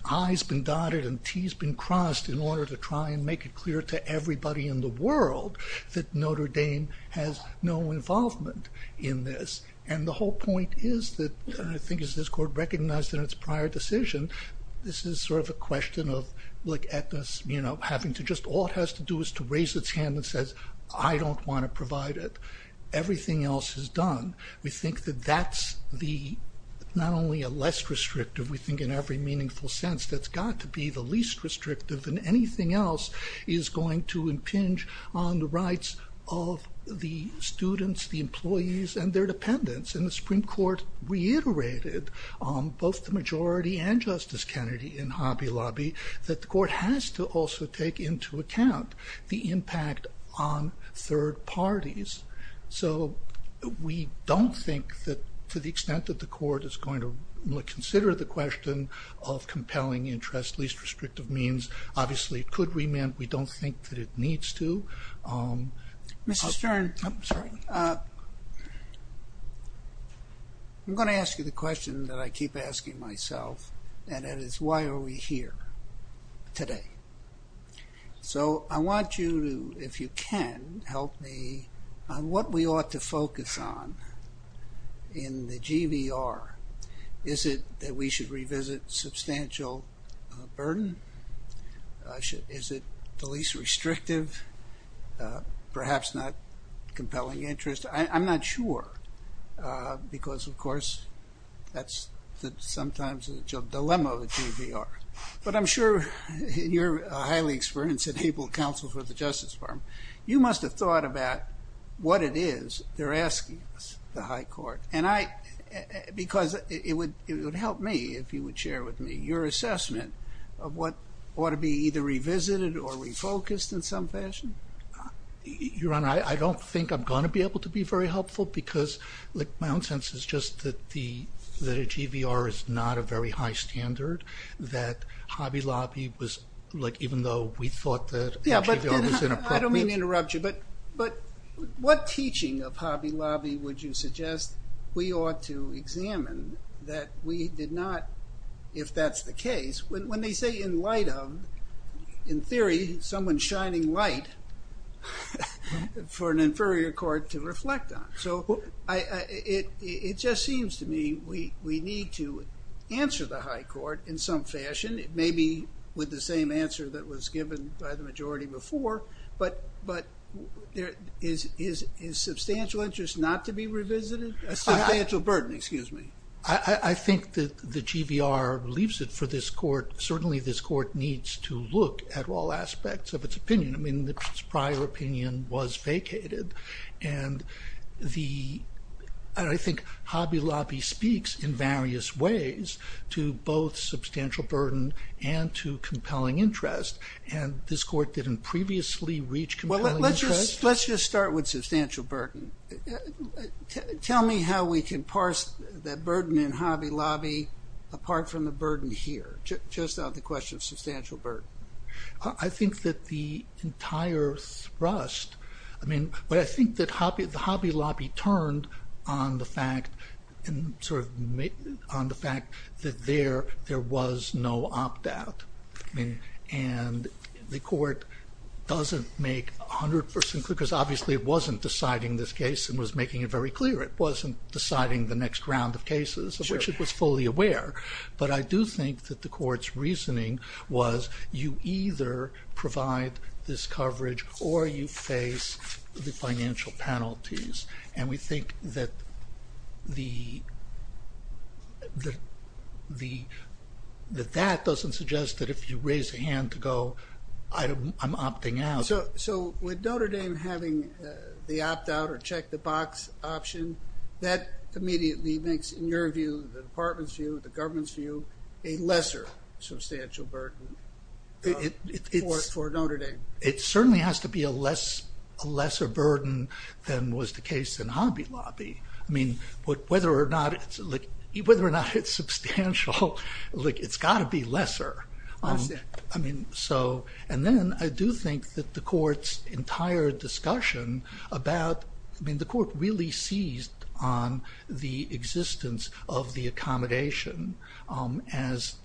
I's been dotted and T's been crossed in order to try and make it clear to everybody in the world that Notre Dame has no involvement in this, and the whole point is that, I think as this court recognized in its prior decision, this is sort of a question of Aetna having to just, all it has to do is to raise its hand and say, I don't want to provide it. Everything else is done. We think that that's the, not only a less restrictive, we think in every meaningful sense, that's got to be the least restrictive and anything else is going to impinge on the rights of the students, the employees, and their dependents, and the Supreme Court reiterated both the majority and Justice Kennedy in Hobby Lobby, that the court has to also take into account the impact on third parties, so we don't think that to the extent that the court is going to consider the question of compelling interest, least restrictive means, obviously could remit. We don't think that it needs to. Mr. Stern, I'm going to ask you the question that I keep asking myself, and that is, why are we here today? So I want you to, if you can, help me on what we ought to focus on in the GVR. Is it that we should revisit substantial burden? Is it the least restrictive, perhaps not compelling interest? I'm not sure, because of course, that's sometimes the dilemma of the GVR. But I'm sure you're a highly experienced and able counsel for the Justice Department. You must have thought about what it is they're asking the high court, because it would help me if you would share with me your assessment of what ought to be either revisited or refocused in some fashion. Your Honor, I don't think I'm going to be able to be very helpful, because my own sense is just that the GVR is not a very high standard, that Hobby Lobby was, like, even though we thought that the GVR was in effect... I don't mean to interrupt you, but what teaching of Hobby Lobby would you suggest we ought to examine that we did not, if that's the case, when they say in light of, in theory, someone's shining light for an inferior court to reflect on. So it just seems to me we need to answer the high court in some fashion, maybe with the same answer that was given by the majority before, but is substantial interest not to be revisited? Substantial burden, excuse me. I think that the GVR leaves it for this court. Certainly this court needs to look at all aspects of its opinion. I mean, its prior opinion was vacated, and I think Hobby Lobby speaks in various ways to both substantial burden and to compelling interest, and this court didn't previously reach compelling interest. Let's just start with substantial burden. Tell me how we can parse the burden in Hobby Lobby apart from the burden here, just on the question of substantial burden. I think that the entire thrust, I mean, I think that Hobby Lobby turned on the fact that there was no opt-out, and the court doesn't make a hundred percent, because obviously it wasn't deciding this case and was making it very clear. It wasn't deciding the next round of cases, which it was fully aware, but I do think that the court's reasoning was you either provide this coverage or you face the financial penalties, and we think that that doesn't suggest that if you raise your hand to go, I'm opting out. So with Notre Dame having the opt-out or check-the-box option, that immediately makes, in your view, the department's view, the government's view, a lesser substantial burden for Notre Dame. It certainly has to be a lesser burden than was the case in Hobby Lobby. I mean, whether or not it's substantial, it's got to be lesser. I mean, so, and then I do think that the court's entire discussion about, I mean, the court really seized on the existence of the accommodation as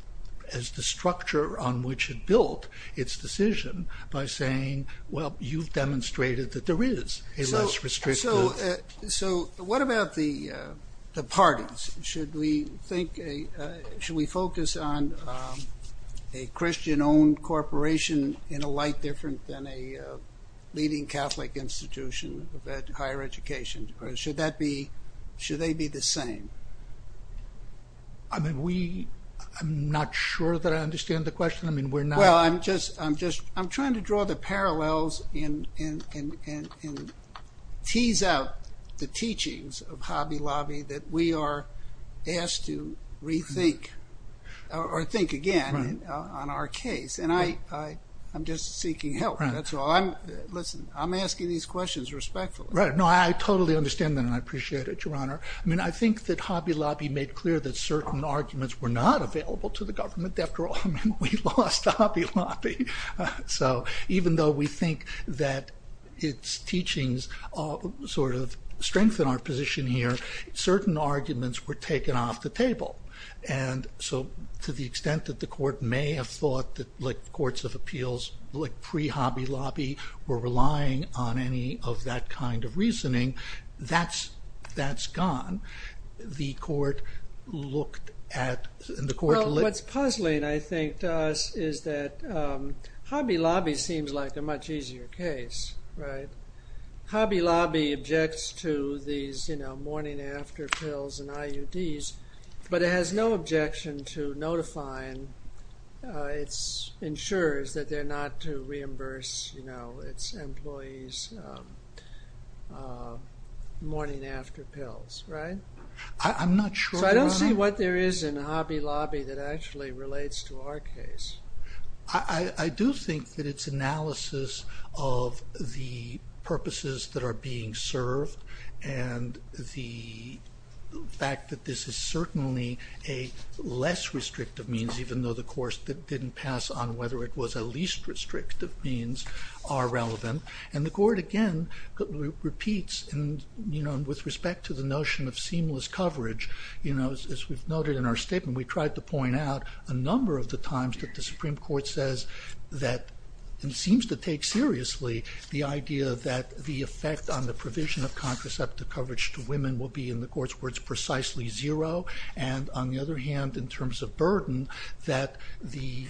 the structure on which it built its decision by saying, well, you've demonstrated that there is a less restrictive. So what about the parties? Should we focus on a Christian-owned corporation in a light different than a leading Catholic institution that higher education, or should they be the same? I mean, I'm not sure that I understand the question. Well, I'm just, I'm trying to draw the parallels and tease out the teachings of Hobby Lobby that we are asked to rethink or think again on our case. And I'm just seeking help. Listen, I'm asking these questions respectfully. Right, no, I totally understand that and I appreciate it, Your Honor. I mean, I think that Hobby Lobby made clear that certain arguments were not available to the government. After all, we lost to Hobby Lobby. So even though we think that its teachings sort of strengthen our position here, certain arguments were taken off the table. And so to the extent that the court may have thought that courts of appeals pre-Hobby Lobby were relying on any of that kind of reasoning, that's gone. The court looked at... Well, what's puzzling, I think, is that Hobby Lobby seems like a much easier case, right? Hobby Lobby objects to these, you know, morning after pills and IUDs, but it has no objection to notifying its insurers that they're not to reimburse, you know, its employees' morning after pills, right? I'm not sure... So I don't see what there is in Hobby Lobby that actually relates to our case. I do think that its analysis of the purposes that are being served and the fact that this is certainly a less restrictive means, even though the court didn't pass on whether it was a least restrictive means, are relevant. And the court, again, repeats, you know, as we've noted in our statement, we tried to point out a number of the times that the Supreme Court says that and seems to take seriously the idea that the effect on the provision of contraceptive coverage to women will be, in the court's words, precisely zero and, on the other hand, in terms of burden, that the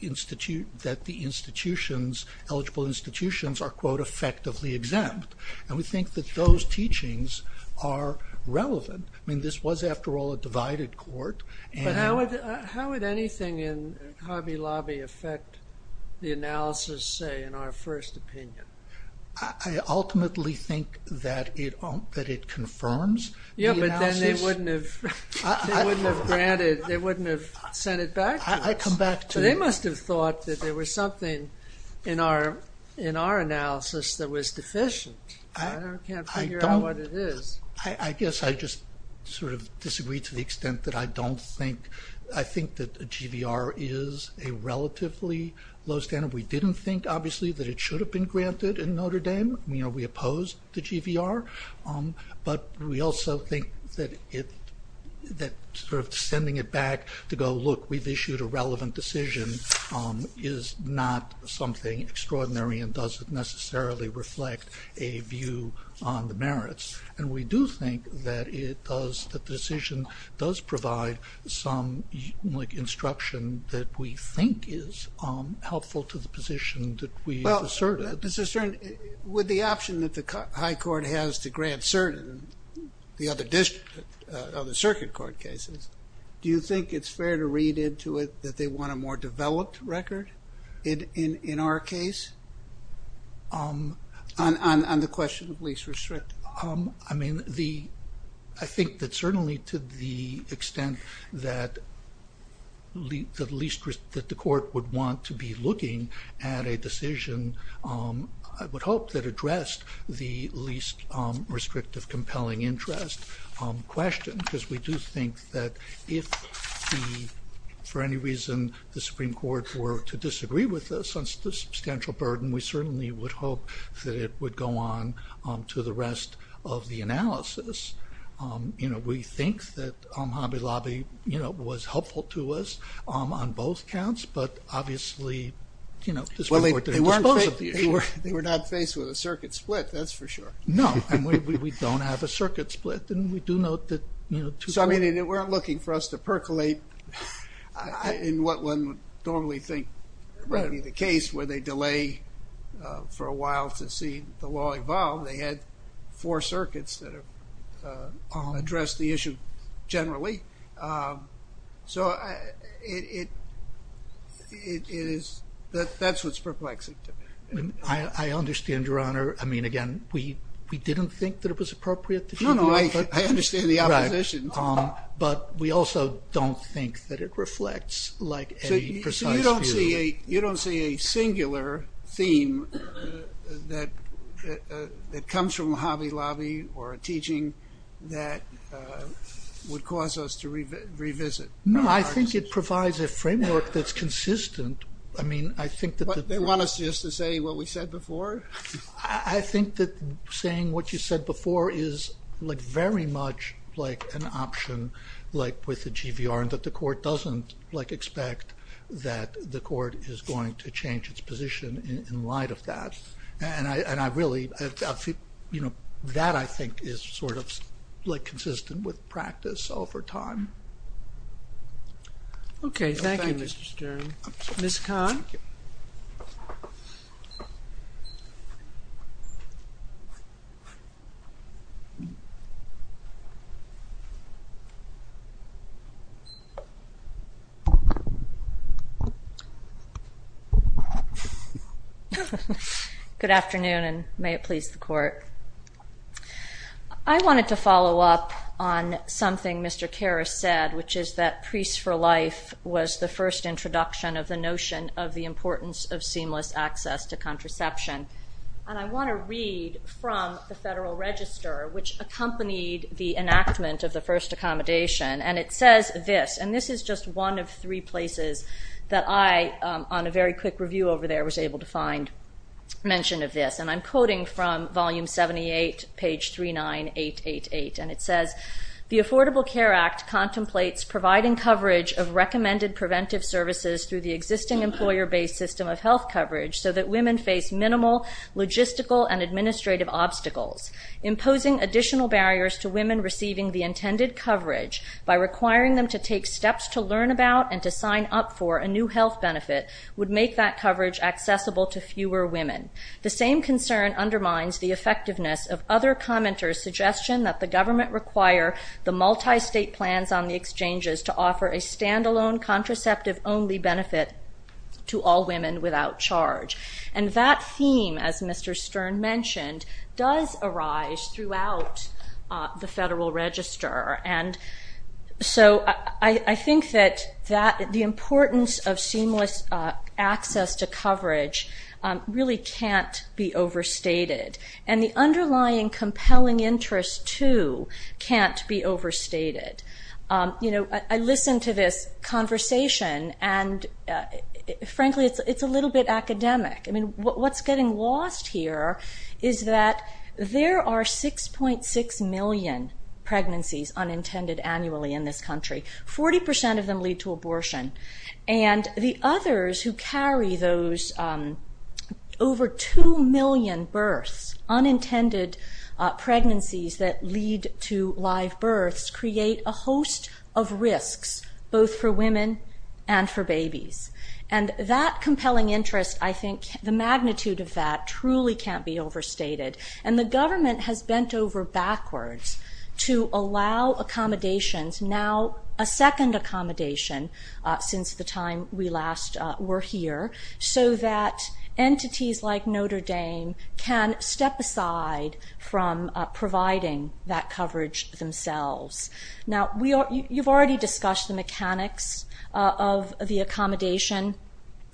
institutions, eligible institutions, are, quote, effectively exempt. And we think that those teachings are relevant. I mean, this was, after all, a divided court. But how would anything in Hobby Lobby affect the analysis, say, in our first opinion? I ultimately think that it confirms... Yeah, but then they wouldn't have granted, they wouldn't have sent it back to us. I come back to... They must have thought that there was something in our analysis that was deficient. I can't figure out what it is. I guess I just sort of disagree to the extent that I don't think... I think that GVR is a relatively low standard. We didn't think, obviously, that it should have been granted in Notre Dame. You know, we opposed the GVR. But we also think that sort of sending it back to go, look, we've issued a relevant decision is not something extraordinary and doesn't necessarily reflect a view on the merits. And we do think that it does, the decision does provide some instruction that we think is helpful to the position that we asserted. With the option that the high court has to grant certain, the other district, other circuit court cases, do you think it's fair to read into it that they want a more developed record in our case? On the question of least restrictive. I mean, I think that certainly to the extent that the court would want to be looking at a decision, I would hope, that addressed the least restrictive compelling interest question. Because we do think that if for any reason the Supreme Court were to disagree with the substantial burden, we certainly would hope that it would go on to the rest of the analysis. You know, we think that Hobby Lobby, you know, was helpful to us on both counts. But obviously, you know, they were not faced with a circuit split, that's for sure. No, and we don't have a circuit split. And we do know that, you know. So, I mean, they weren't looking for us to percolate in what one would normally think would be the case where they delay for a while to see the law evolve. They had four circuits that addressed the issue generally. So, that's what's perplexing to me. I understand, Your Honor. I mean, again, we didn't think that it was appropriate. No, no, I understand the opposition. But we also don't think that it reflects like a precise view. So, you don't see a singular theme that comes from Hobby Lobby or a teaching that would cause us to revisit? No, I think it provides a framework that's consistent. I mean, I think that... They want us just to say what we said before? I think that saying what you said before is like very much like an option, like with the GBR, but the court doesn't expect that the court is going to change its position in light of that. And I really... That, I think, is sort of consistent with practice over time. Okay, thank you, Mr. Stern. Ms. Kahn? Good afternoon, and may it please the Court. I wanted to follow up on something Mr. Karras said, which is that Priests for Life was the first introduction of the notion of the importance of seamless access to contraception. And I want to read from the Federal Register, which accompanied the enactment of the first accommodation. And it says this, and this is just one of three places that I, on a very quick review over there, was able to find mention of this. And I'm quoting from volume 78, page 39888. And it says... ...and to sign up for a new health benefit would make that coverage accessible to fewer women. The same concern undermines the effectiveness of other commenters' suggestion that the government require the multi-state plans on the exchanges to offer a standalone contraceptive-only benefit to all women without charge. And that theme, as Mr. Stern mentioned, does arise throughout the Federal Register. And so I think that the importance of seamless access to coverage really can't be overstated. And the underlying compelling interest, too, can't be overstated. You know, I listened to this conversation, and frankly, it's a little bit academic. I mean, what's getting lost here is that there are 6.6 million pregnancies unintended annually in this country. 40% of them lead to abortion. And the others who carry those over 2 million births, unintended pregnancies that lead to live births, create a host of risks, both for women and for babies. And that compelling interest, I think, the magnitude of that truly can't be overstated. And the government has bent over backwards to allow accommodations, now a second accommodation since the time we last were here, so that entities like Notre Dame can step aside from providing that coverage themselves. Now, you've already discussed the mechanics of the accommodation,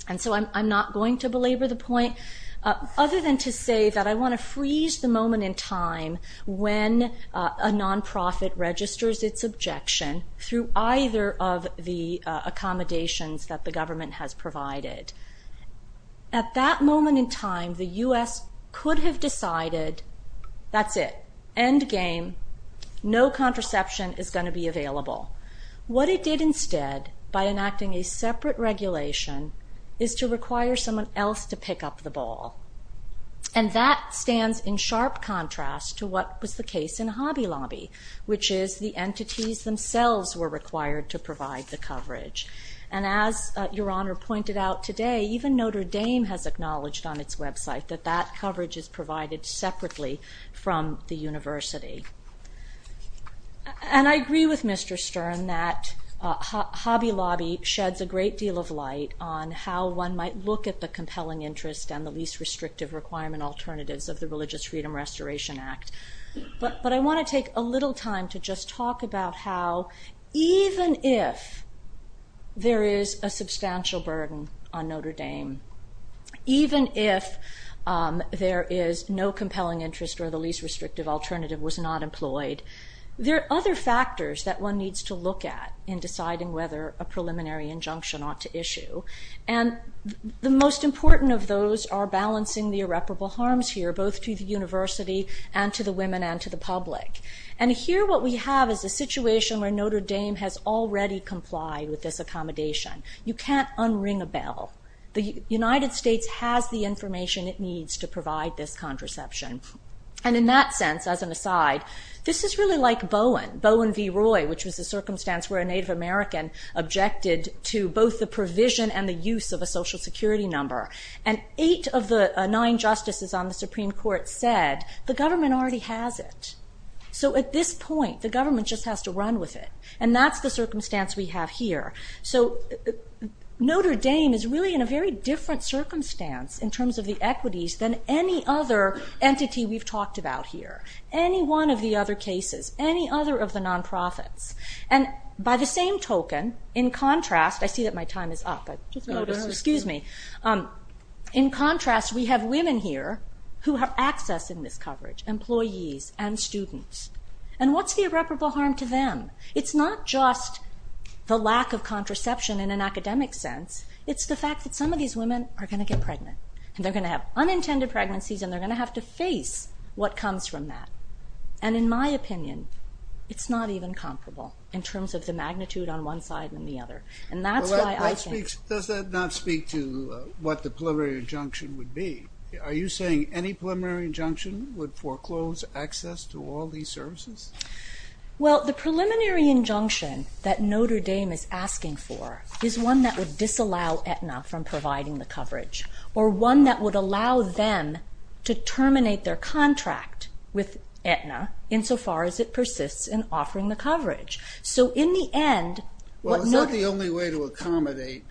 and so I'm not going to belabor the point, other than to say that I want to freeze the moment in time when a nonprofit registers its objection through either of the accommodations that the government has provided. At that moment in time, the U.S. could have decided, that's it, end game, no contraception is going to be available. What it did instead, by enacting a separate regulation, is to require someone else to pick up the ball. And that stands in sharp contrast to what was the case in Hobby Lobby, which is the entities themselves were required to provide the coverage. And as Your Honor pointed out today, even Notre Dame has acknowledged on its website that that coverage is provided separately from the university. And I agree with Mr. Stern that Hobby Lobby sheds a great deal of light on how one might look at the compelling interest and the least restrictive requirement alternatives of the Religious Freedom Restoration Act. But I want to take a little time to just talk about how even if there is a substantial burden on Notre Dame, even if there is no compelling interest or the least restrictive alternative was not employed, there are other factors that one needs to look at in deciding whether a preliminary injunction ought to issue. And the most important of those are balancing the irreparable harms here, both to the university and to the women and to the public. And here what we have is a situation where Notre Dame has already complied with this accommodation. You can't unring a bell. The United States has the information it needs to provide this contraception. And in that sense, as an aside, this is really like Bowen, Bowen v. Roy, which was the circumstance where a Native American objected to both the provision and the use of a social security number. And eight of the nine justices on the Supreme Court said, the government already has it. So at this point, the government just has to run with it. And that's the circumstance we have here. So Notre Dame is really in a very different circumstance in terms of the equities than any other entity we've talked about here, any one of the other cases, any other of the non-profits. And by the same token, in contrast, I see that my time is up. In contrast, we have women here who have access in this coverage, employees and students. And what's the irreparable harm to them? It's not just the lack of contraception in an academic sense. It's the fact that some of these women are going to get pregnant. And they're going to have unintended pregnancies, and they're going to have to face what comes from that. And in my opinion, it's not even comparable in terms of the magnitude on one side and the other. Does that not speak to what the preliminary injunction would be? Are you saying any preliminary injunction would foreclose access to all these services? Well, the preliminary injunction that Notre Dame is asking for is one that would disallow Aetna from providing the coverage, or one that would allow them to terminate their contract with Aetna insofar as it persists in offering the coverage. So in the end... Well, is that the only way to accommodate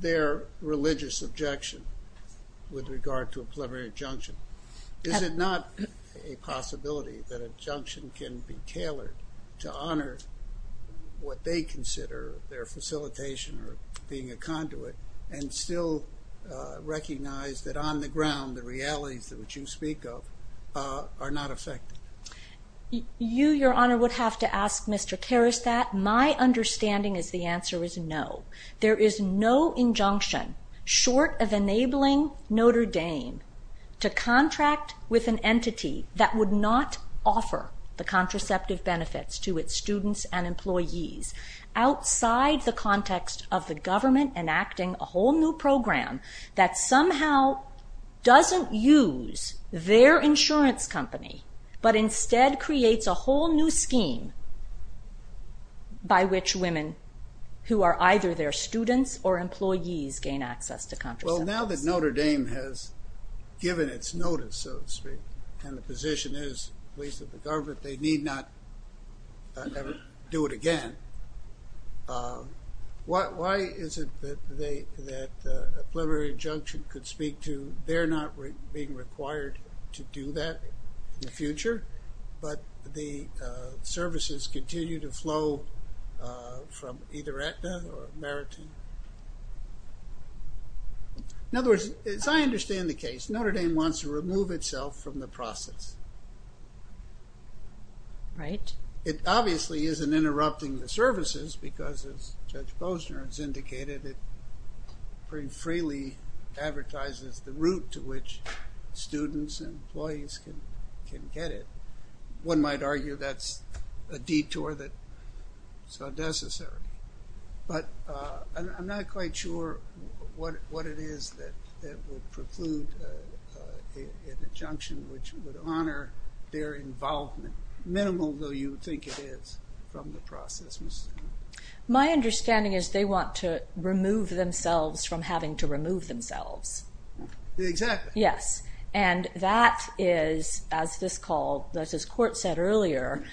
their religious objection with regard to a preliminary injunction? Is it not a possibility that injunction can be tailored to honor what they consider their facilitation or being a conduit and still recognize that on the ground the realities that you speak of are not affected? You, Your Honor, would have to ask Mr. Karasat. My understanding is the answer is no. There is no injunction short of enabling Notre Dame to contract with an entity that would not offer the contraceptive benefits to its students and employees outside the context of the government enacting a whole new program that somehow doesn't use their insurance company but instead creates a whole new scheme by which women who are either their students or employees gain access to contraception. Well, now that Notre Dame has given its notice and the position is, at least with the government, they need not ever do it again, why is it that a preliminary injunction could speak to their not being required to do that in the future but the services continue to flow from either Acme or Maritime? In other words, I understand the case. Notre Dame wants to remove itself from the process. Right. It obviously isn't interrupting the services because, as Judge Bosner has indicated, it pretty freely advertises the route to which students and employees can get it. One might argue that's a detour that's not necessary. But I'm not quite sure what it is that would preclude an injunction which would honor their involvement, minimal though you think it is, from the process. My understanding is they want to remove themselves from having to remove themselves. Exactly. And that is, as this court said earlier,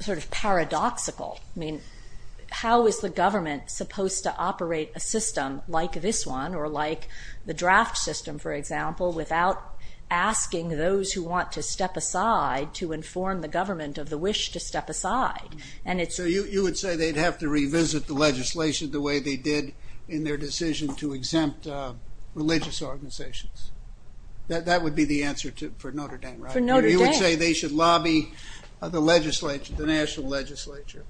sort of paradoxical. How is the government supposed to operate a system like this one or like the draft system, for example, without asking those who want to step aside to inform the government of the wish to step aside? So you would say they'd have to revisit the legislation the way they did in their decision to exempt religious organizations. That would be the answer for Notre Dame, right? For Notre Dame. You would say they should lobby the national legislature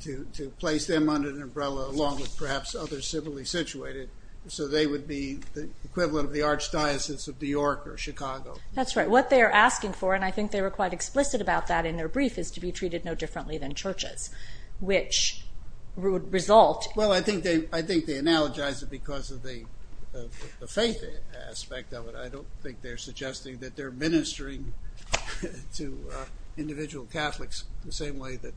to place them under an umbrella along with perhaps other civilly situated so they would be the equivalent of the archdiocese of New York or Chicago. That's right. What they are asking for, and I think they were quite explicit about that in their brief, is to be treated no differently than churches, which would result... Well, I think they analogize it because of the faith aspect of it. I don't think they're suggesting that they're ministering to individual Catholics the same way that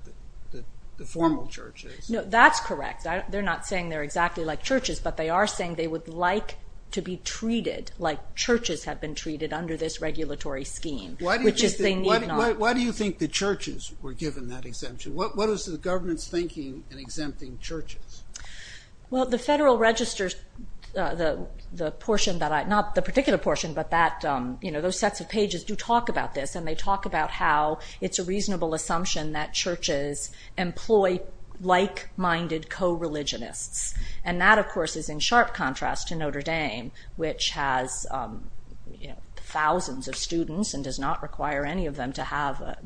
the formal church is. No, that's correct. They're not saying they're exactly like churches, but they are saying they would like to be treated like churches have been treated under this regulatory scheme. Why do you think the churches were given that exemption? What is the government thinking in exempting churches? Well, the federal registers, not the particular portion, but those sets of pages do talk about this, and they talk about how it's a reasonable assumption that churches employ like-minded co-religionists. And that, of course, is in sharp contrast to Notre Dame, which has thousands of students and does not require any of them to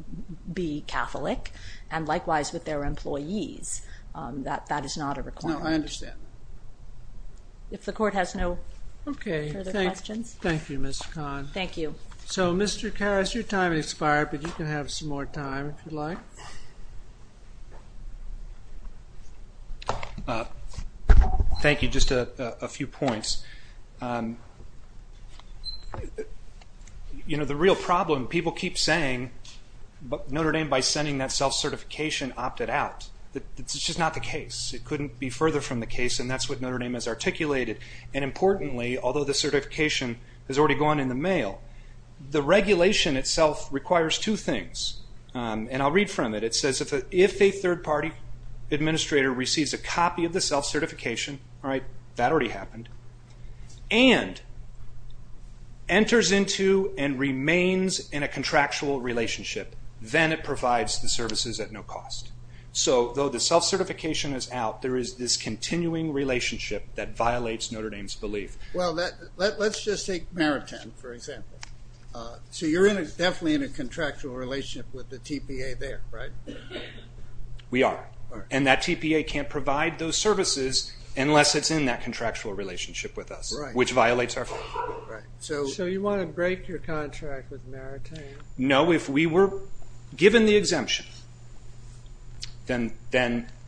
be Catholic, and likewise with their employees. That is not a requirement. No, I understand. Okay, thank you, Ms. Kahn. So, Mr. Kass, your time has expired, but you can have some more time, if you'd like. Thank you. Just a few points. You know, the real problem, people keep saying Notre Dame, by sending that self-certification, opted out. It's just not the case. It couldn't be further from the case, and that's what Notre Dame has articulated. And importantly, although the certification has already gone into mail, the regulation itself requires two things, and I'll read from it. It says that if a third party administrator receives a copy of the self-certification, that already happened, and enters into and remains in a contractual relationship, then it provides the services at no cost. So, though the self-certification is out, there is this continuing relationship that violates Notre Dame's belief. Well, let's just take Maritime, for example. So you're definitely in a contractual relationship with the TPA there, right? We are, and that TPA can't provide those services unless it's in that contractual relationship with us, which violates our contract. So you want to break your contract with Maritime? No, if we were given the exemption, then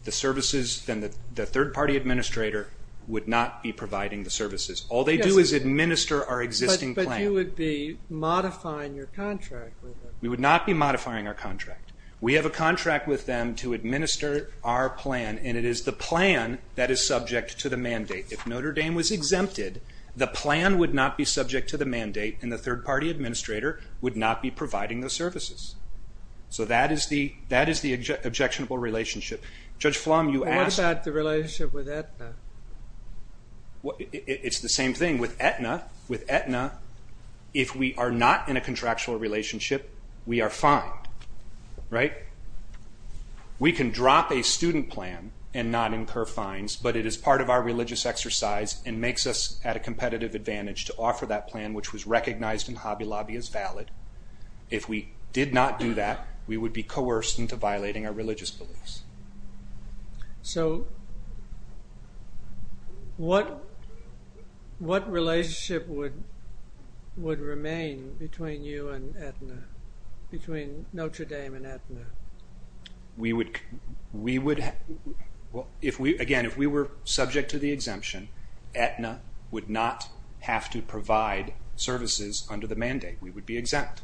the services, then the third party administrator would not be providing the services. All they do is administer our existing plan. But you would be modifying your contract with them? We would not be modifying our contract. We have a contract with them to administer our plan, and it is the plan that is subject to the mandate. If Notre Dame was exempted, the plan would not be subject to the mandate, and the third party administrator would not be providing the services. So that is the objectionable relationship. Judge Flom, you asked... What about the relationship with Aetna? It's the same thing. With Aetna, if we are not in a contractual relationship, we are fine. We can drop a student plan and not incur fines, but it is part of our religious exercise and makes us at a competitive advantage to offer that plan, which was recognized in Hobby Lobby as valid. If we did not do that, we would be coerced into violating our religious beliefs. So what relationship would remain between you and Aetna? Between Notre Dame and Aetna? We would... Again, if we were subject to the exemption, Aetna would not have to provide services under the mandate. We would be exempt.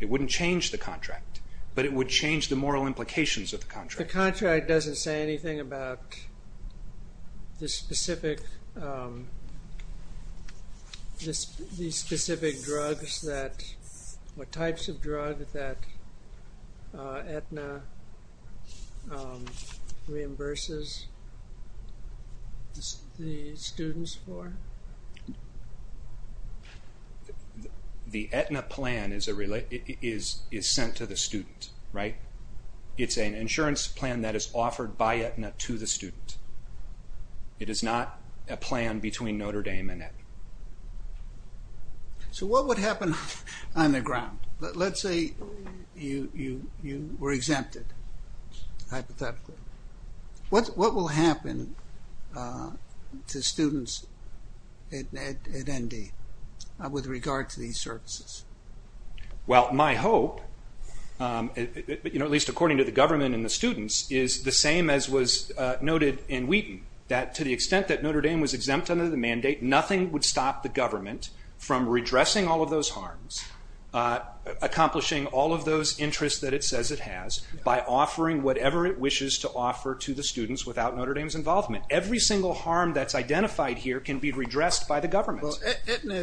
It wouldn't change the contract, but it would change the moral implications of the contract. The contract doesn't say anything about the specific drugs, the types of drugs that Aetna reimburses the students for? The Aetna plan is sent to the student, right? It's an insurance plan that is offered by Aetna to the student. It is not a plan between Notre Dame and Aetna. So what would happen on the ground? Let's say you were exempted, hypothetically. What will happen to students at ND with regard to these services? Well, my hope, at least according to the government and the students, is the same as was noted in Wheaton. To the extent that Notre Dame was exempt under the mandate, nothing would stop the government from redressing all of those harms, accomplishing all of those interests that it says it has by offering whatever it wishes to offer to the students without Notre Dame's involvement. Every single harm that's identified here can be redressed by the government. Aetna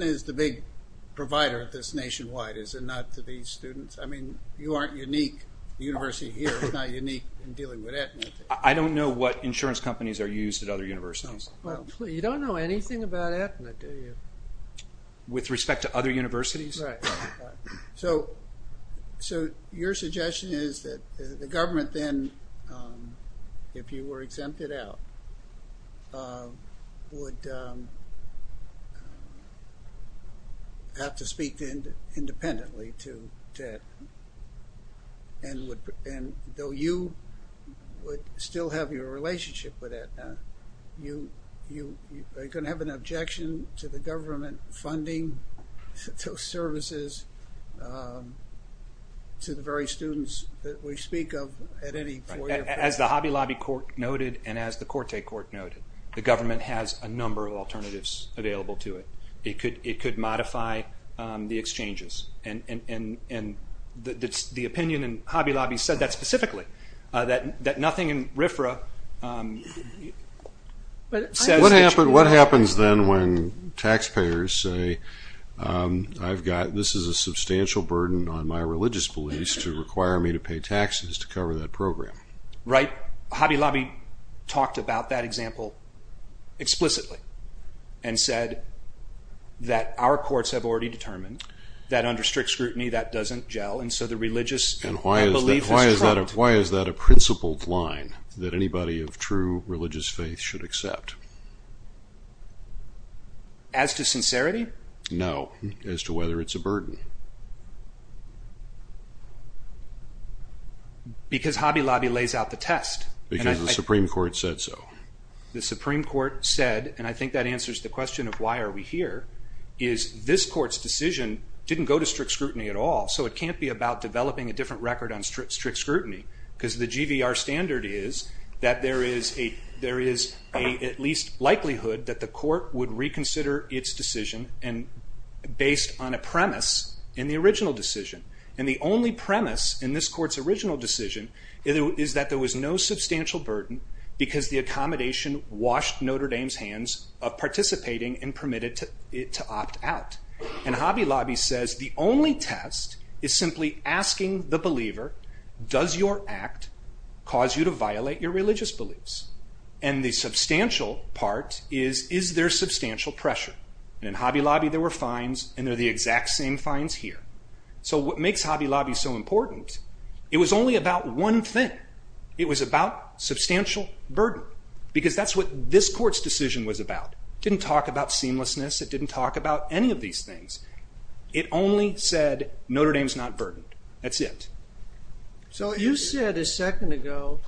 is the big provider of this nationwide, is it not? I mean, you aren't unique. The university here is not unique in dealing with Aetna. I don't know what insurance companies are used at other universities. You don't know anything about Aetna, do you? With respect to other universities? So your suggestion is that the government then, if you were exempted out, would have to speak independently to Aetna, and though you would still have your relationship with Aetna, are you going to have an objection to the government funding services to the very students that we speak of at any point? As the Hobby Lobby court noted and as the Corte court noted, the government has a number of alternatives available to it. It could modify the exchanges and the opinion in Hobby Lobby said that specifically, that nothing in RFRA... What happens then when taxpayers say, this is a substantial burden on my religious beliefs to require me to pay taxes to cover that program? Hobby Lobby talked about that example explicitly and said that our courts have already determined that under strict scrutiny that doesn't gel and so the religious... Why is that a principled line that anybody of true religious faith should accept? No, as to whether it's a burden. Because Hobby Lobby lays out the test. Because the Supreme Court said so. The Supreme Court said, and I think that answers the question of why are we here, is this court's decision didn't go to strict scrutiny at all so it can't be about developing a different record on strict scrutiny because the GVR standard is that there is at least likelihood that the court would reconsider its decision based on a premise in the original decision. And the only premise in this court's original decision is that there was no substantial burden because the accommodation washed Notre Dame's hands of participating and permitted it to opt out. And Hobby Lobby says the only test is simply asking the believer, does your act cause you to violate your religious beliefs? And the substantial part is, is there substantial pressure? In Hobby Lobby there were fines and they're the exact same fines here. So what makes Hobby Lobby so important, it was only about one thing. It was about substantial burden because that's what this court's decision was about. It didn't talk about seamlessness. It didn't talk about any of these things. It only said Notre Dame's not burdened. That's it. So you said a second ago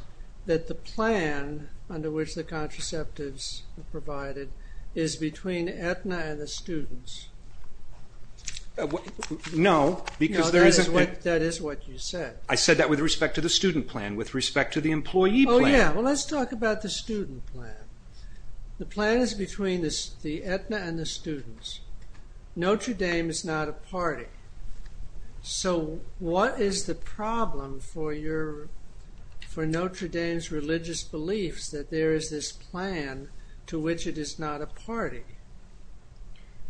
that the plan under which the contraceptives are provided is between Aetna and the students. No. That is what you said. I said that with respect to the student plan, with respect to the employee plan. Oh yeah, well let's talk about the student plan. The plan is between the Aetna and the students. Notre Dame is not a party. So what is the problem for Notre Dame's religious beliefs that there is this plan to which it is not a party?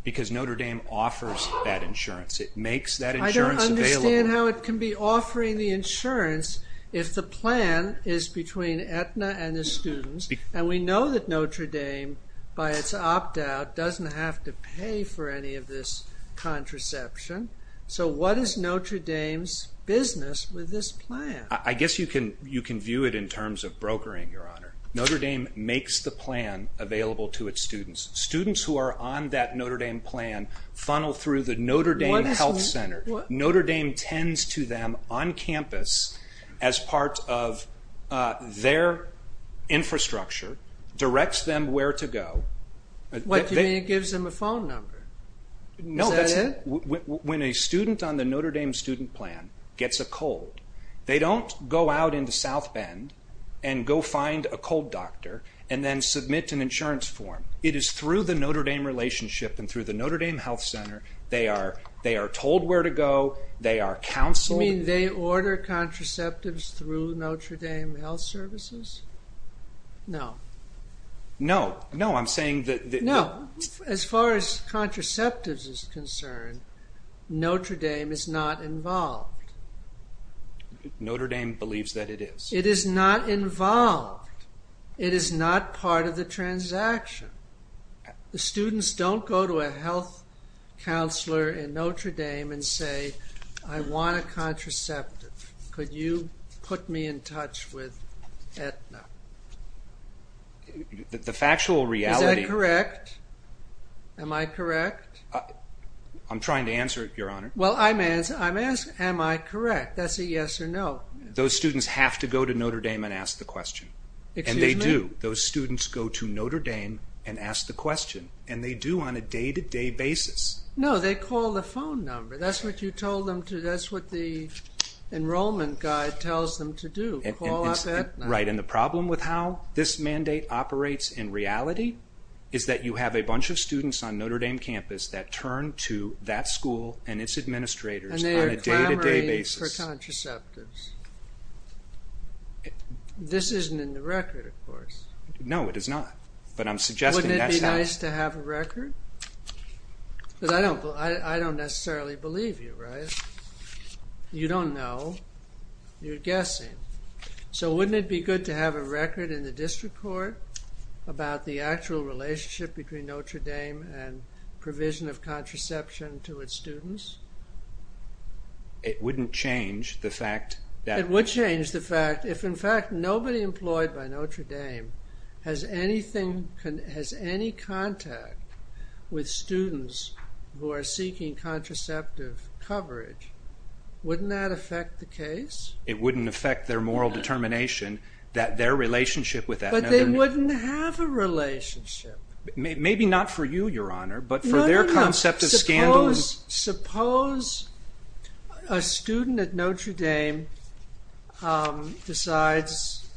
Because Notre Dame offers that insurance. I don't understand how it can be offering the insurance if the plan is between Aetna and the students and we know that Notre Dame by its opt-out doesn't have to pay for any of this contraception. So what is Notre Dame's business with this plan? I guess you can view it in terms of brokering, Your Honor. Notre Dame makes the plan available to its students. Students who are on that Notre Dame plan funnel through the Notre Dame health center. Notre Dame tends to them on campus as part of their infrastructure, directs them where to go. What, you mean it gives them a phone number? No, when a student on the Notre Dame student plan gets a cold, they don't go out into South Bend and go find a cold doctor and then submit an insurance form. It is through the Notre Dame relationship and through the Notre Dame health center they are told where to go, they are counseled. You mean they order contraceptives through Notre Dame health services? No. As far as contraceptives is concerned, Notre Dame is not involved. Notre Dame believes that it is. It is not involved. It is not part of the transaction. The students don't go to a health counselor in Notre Dame and say, I want a contraceptive. Could you put me in touch with Aetna? The factual reality... Is that correct? Am I correct? I'm trying to answer it, your honor. Well, I'm asking, am I correct? That's a yes or no. Those students have to go to Notre Dame and ask the question. And they do. Those students go to Notre Dame and ask the question. And they do on a day to day basis. No, they call the phone number. That's what the enrollment guide tells them to do. Right. And the problem with how this mandate operates in reality is that you have a bunch of students on Notre Dame campus that turn to that school and its administrators on a day to day basis. This isn't in the record, of course. Wouldn't it be nice to have a record? But I don't necessarily believe you, right? You don't know. You're guessing. So wouldn't it be good to have a record in the district court about the actual relationship between Notre Dame and provision of contraception to its students? It wouldn't change the fact that... It would change the fact if, in fact, nobody employed by Notre Dame has anything has any contact with students who are seeking contraceptive coverage. Wouldn't that affect the case? It wouldn't affect their moral determination that their relationship with that... But they wouldn't have a relationship. Maybe not for you, Your Honor, but for their concept of scandal... Suppose a student at Notre Dame decides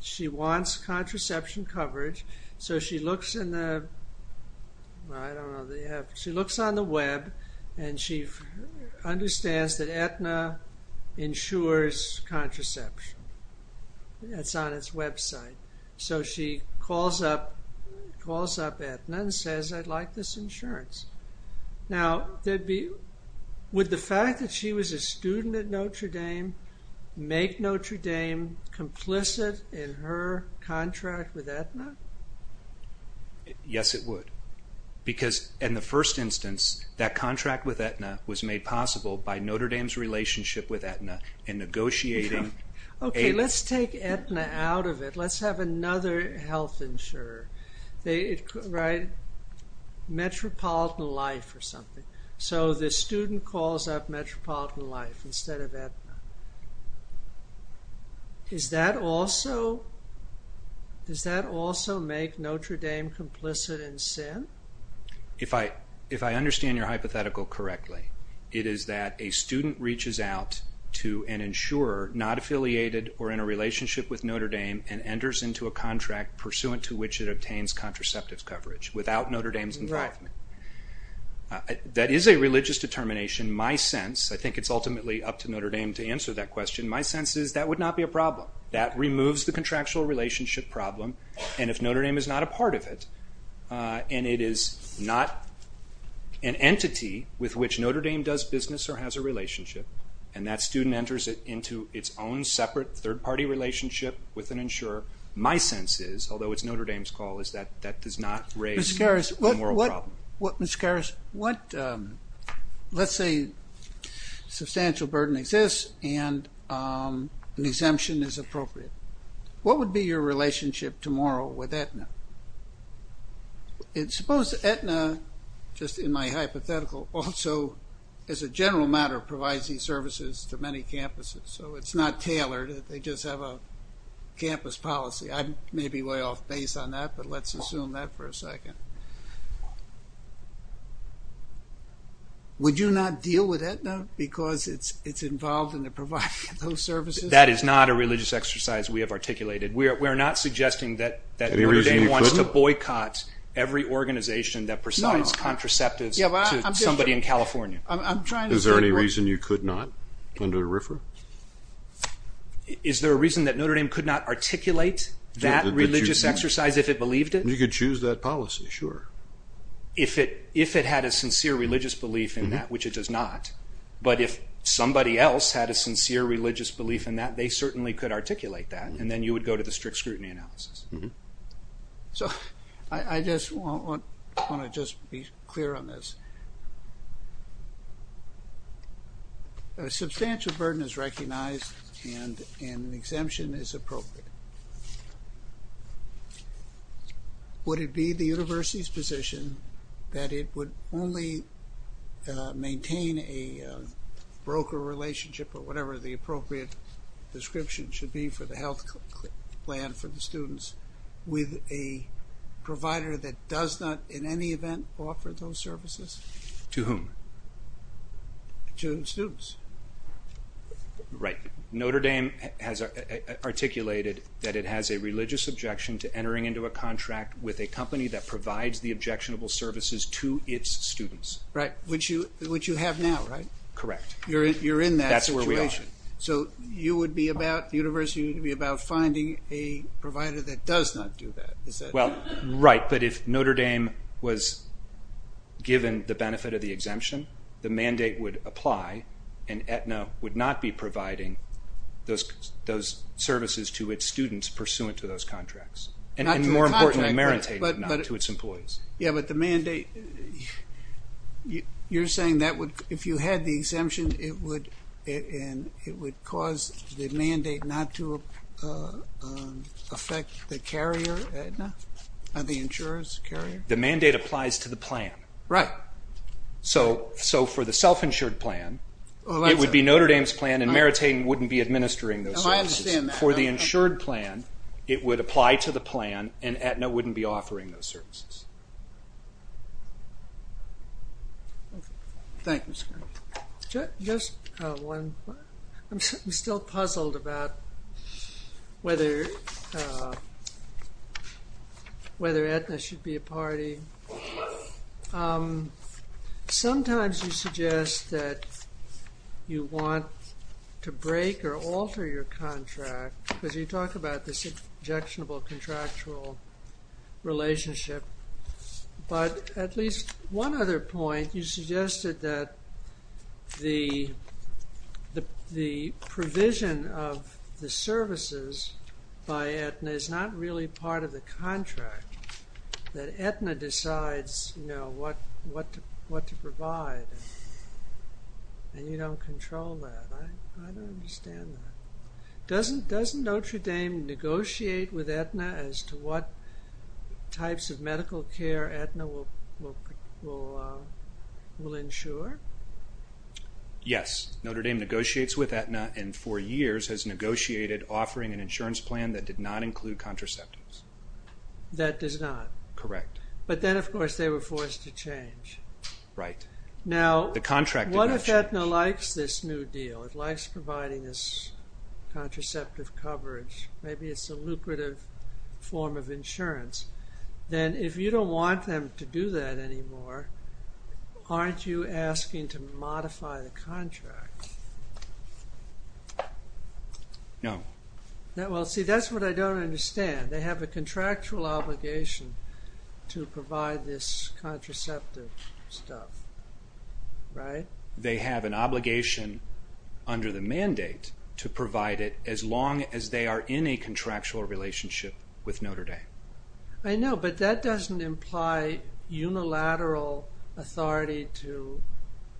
she wants contraception coverage. She looks on the web and she understands that Aetna insures contraception. It's on its website. So she calls up Aetna and says, I'd like this insurance. Now, would the fact that she was a student at Notre Dame make Notre Dame complicit in her contract with Aetna? Yes, it would. Because, in the first instance, that contract with Aetna was made possible by Notre Dame's relationship with Aetna in negotiating... Okay, let's take Aetna out of it. Let's have another health insurer. Metropolitan Life or something. So the student calls up Metropolitan Life instead of Aetna. Does that also make Notre Dame complicit in sin? If I understand your hypothetical correctly, it is that a student reaches out to an insurer not affiliated or in a relationship with Notre Dame and enters into a contract pursuant to which it obtains contraceptive coverage without Notre Dame's involvement. That is a religious determination. My sense, I think it's ultimately up to Notre Dame to answer that question, my sense is that would not be a problem. That removes the contractual relationship problem. And if Notre Dame is not a part of it, and it is not an entity with which Notre Dame does business or has a relationship, and that student enters it into its own separate third-party relationship with an insurer, my sense is, although it's Notre Dame's call, that does not raise the moral problem. Let's say substantial burden exists and an exemption is appropriate. What would be your relationship tomorrow with Aetna? Suppose Aetna, just in my hypothetical, also as a general matter provides these services to many campuses, so it's not tailored, they just have a campus policy. I may be way off base on that, but let's assume that for a second. Would you not deal with Aetna because it's involved in providing those services? That is not a religious exercise we have articulated. We're not suggesting that Notre Dame wants to boycott every organization that provides contraceptives to somebody in California. Is there any reason you could not under RFRA? Is there a reason that Notre Dame could not articulate that religious exercise if it believed it? You could choose that policy, sure. If it had a sincere religious belief in that, which it does not, but if somebody else had a sincere religious belief in that, they certainly could articulate that, and then you would go to the strict scrutiny analysis. I just want to be clear on this. A substantial burden is recognized and an exemption is appropriate. Would it be the university's position that it would only maintain a broker relationship or whatever the appropriate description should be for the health plan for the students with a provider that does not in any event offer those services? To whom? To the students. Right. Notre Dame has articulated that it has a religious objection to entering into a contract with a company that provides the objectionable services to its students. Right. Which you have now, right? Correct. That's where we are. So the university would be about finding a provider that does not do that. Right, but if Notre Dame was given the benefit of the exemption, the mandate would apply and Aetna would not be providing those services to its students pursuant to those contracts. And more importantly, not to its employees. Yeah, but the mandate, you're saying that if you had the exemption, it would cause the mandate not to affect the carrier Aetna and the insurance carrier? The mandate applies to the plan. So for the self-insured plan, it would be Notre Dame's plan and Meriting wouldn't be administering those services. For the insured plan, it would apply to the plan and Aetna wouldn't be offering those services. Thank you, Scott. I'm still puzzled about whether Aetna should be a party. Sometimes you suggest that you want to break or alter your contract because you talk about this objectionable contractual relationship. But at least one other point, you suggested that the provision of the services by Aetna is not really part of the contract. That Aetna decides what to provide and you don't control that. I don't understand that. Doesn't Notre Dame negotiate with Aetna as to what types of medical care Aetna will ensure? Yes. Notre Dame negotiates with Aetna and for years has negotiated offering an insurance plan that did not include contraceptives. That does not? Correct. But then, of course, they were forced to change. Now, what if Aetna likes this new deal? It likes providing this contraceptive coverage. Maybe it's a lucrative form of insurance. Then if you don't want them to do that anymore, aren't you asking to modify the contract? No. See, that's what I don't understand. They have a contractual obligation to provide this contraceptive stuff, right? They have an obligation under the mandate to provide it as long as they are in a contractual relationship with Notre Dame. I know, but that doesn't imply unilateral authority to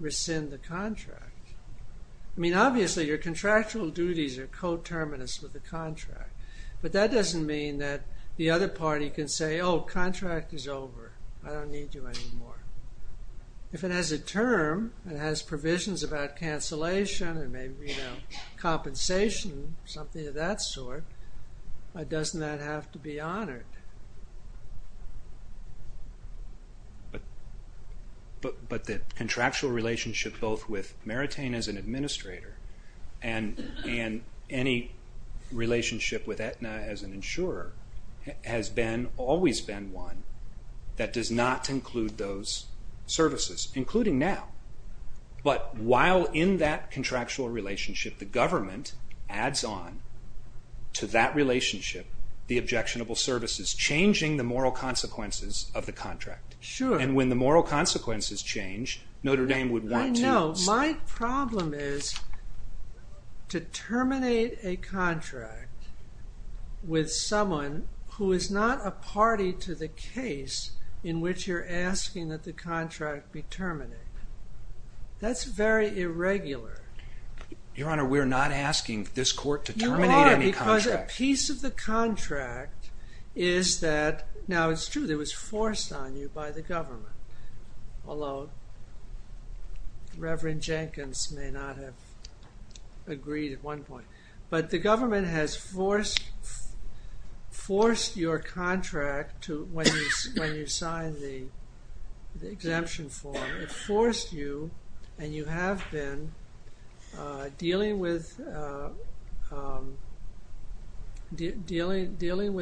rescind the contract. I mean, obviously, your contractual duties are coterminous with the contract, but that doesn't mean that the other party can say, oh, contract is over. I don't need you anymore. If it has a term, it has provisions about cancellation and maybe compensation, something of that sort, doesn't that have to be honored? But the contractual relationship both with Maritain as an administrator and any relationship with Aetna as an insurer has always been one that does not include those services, including now. But while in that contractual relationship, the government adds on to that relationship the objectionable services, changing the moral consequences of the contract. And when the moral consequences change, Notre Dame would want to... No, my problem is to terminate a contract with someone who is not a party to the case in which you're asking that the contract be terminated. That's very irregular. Your Honor, we're not asking this court to terminate any contract. Your Honor, because a piece of the contract is that... Now, it's true that it was forced on you by the government, although Reverend Jenkins may not have agreed at one point, but the government has forced your contract when you signed the exemption form. It forced you, and you have been dealing with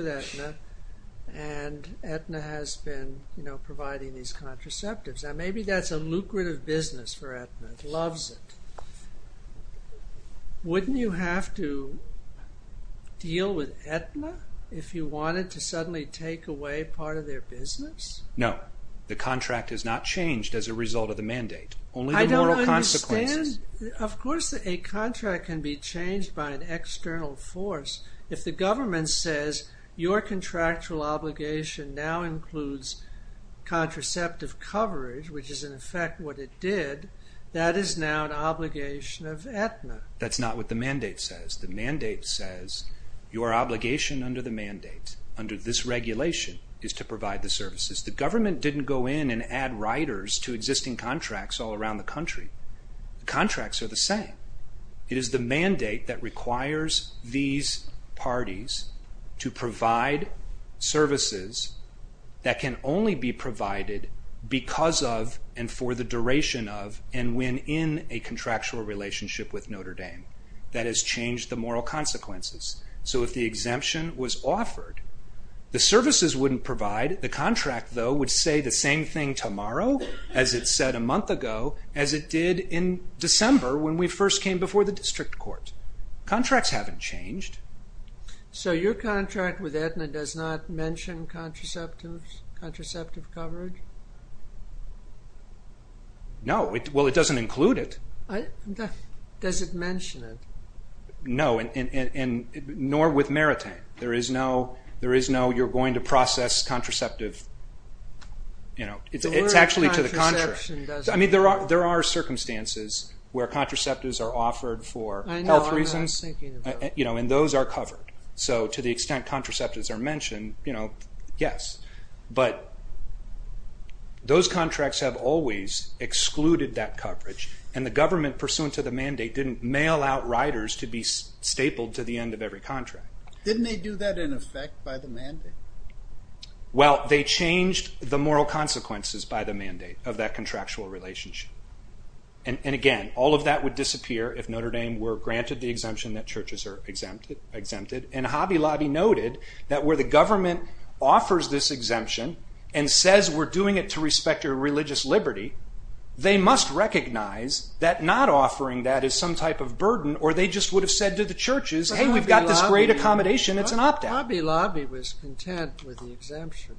Aetna, and Aetna has been providing these contraceptives. Now, maybe that's a lucrative business for Aetna. It loves it. Wouldn't you have to deal with Aetna if you wanted to suddenly take away part of their business? No. The contract has not changed as a result of the mandate. I don't understand. Of course a contract can be changed by an external force. If the government says your contractual obligation now includes contraceptive coverage, that is now an obligation of Aetna. That's not what the mandate says. Your obligation under the mandate, under this regulation, is to provide the services. The government didn't go in and add riders to existing contracts all around the country. Contracts are the same. It is the mandate that requires these parties to provide services that can only be provided because of and for the duration of and when in a contractual relationship with Notre Dame. That has changed the moral consequences. So if the exemption was offered, the services wouldn't provide. The contract, though, would say the same thing tomorrow as it said a month ago as it did in December when we first came before the district court. Contracts haven't changed. So your contract with Aetna does not mention contraceptive coverage? No. Well, it doesn't include it. Does it mention it? No, nor with Maritime. There is no, you're going to process contraceptive... It's actually to the contrary. I mean, there are circumstances where contraceptives are offered for health reasons and those are covered. So to the extent contraceptives are mentioned, yes. But those contracts have always excluded that coverage and the government pursuant to the mandate didn't mail out riders to be stapled to the end of every contract. Didn't they do that in effect by the mandate? Well, they changed the moral consequences by the mandate of that contractual relationship. And again, all of that would disappear if Notre Dame were granted the exemption that churches are exempted. And Hobby Lobby noted that where the government offers this exemption and says we're doing it to respect your religious liberty, they must recognize that not offering that is some type of burden or they just would have said to the churches, hey, we've got this great accommodation, it's an opt-out. Hobby Lobby was content with the exemption.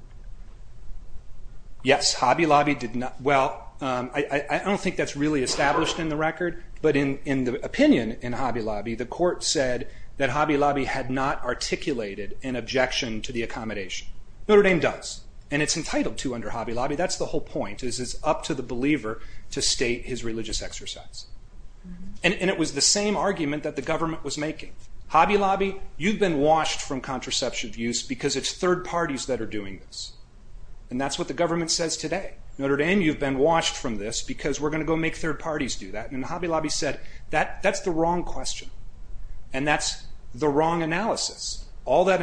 Yes, Hobby Lobby did not. Well, I don't think that's really established in the record but in the opinion in Hobby Lobby, the court said that Hobby Lobby had not articulated an objection to the accommodation. Notre Dame does. And it's entitled to under Hobby Lobby. That's the whole point. It's up to the believer to state his religious exercise. And it was the same argument that the government was making. Hobby Lobby, you've been washed from contraception abuse because it's third parties that are doing this. And that's what the government says today. Notre Dame, you've been washed from this because we're going to go make third parties do that. And Hobby Lobby said that's the wrong question. And that's the wrong analysis. All that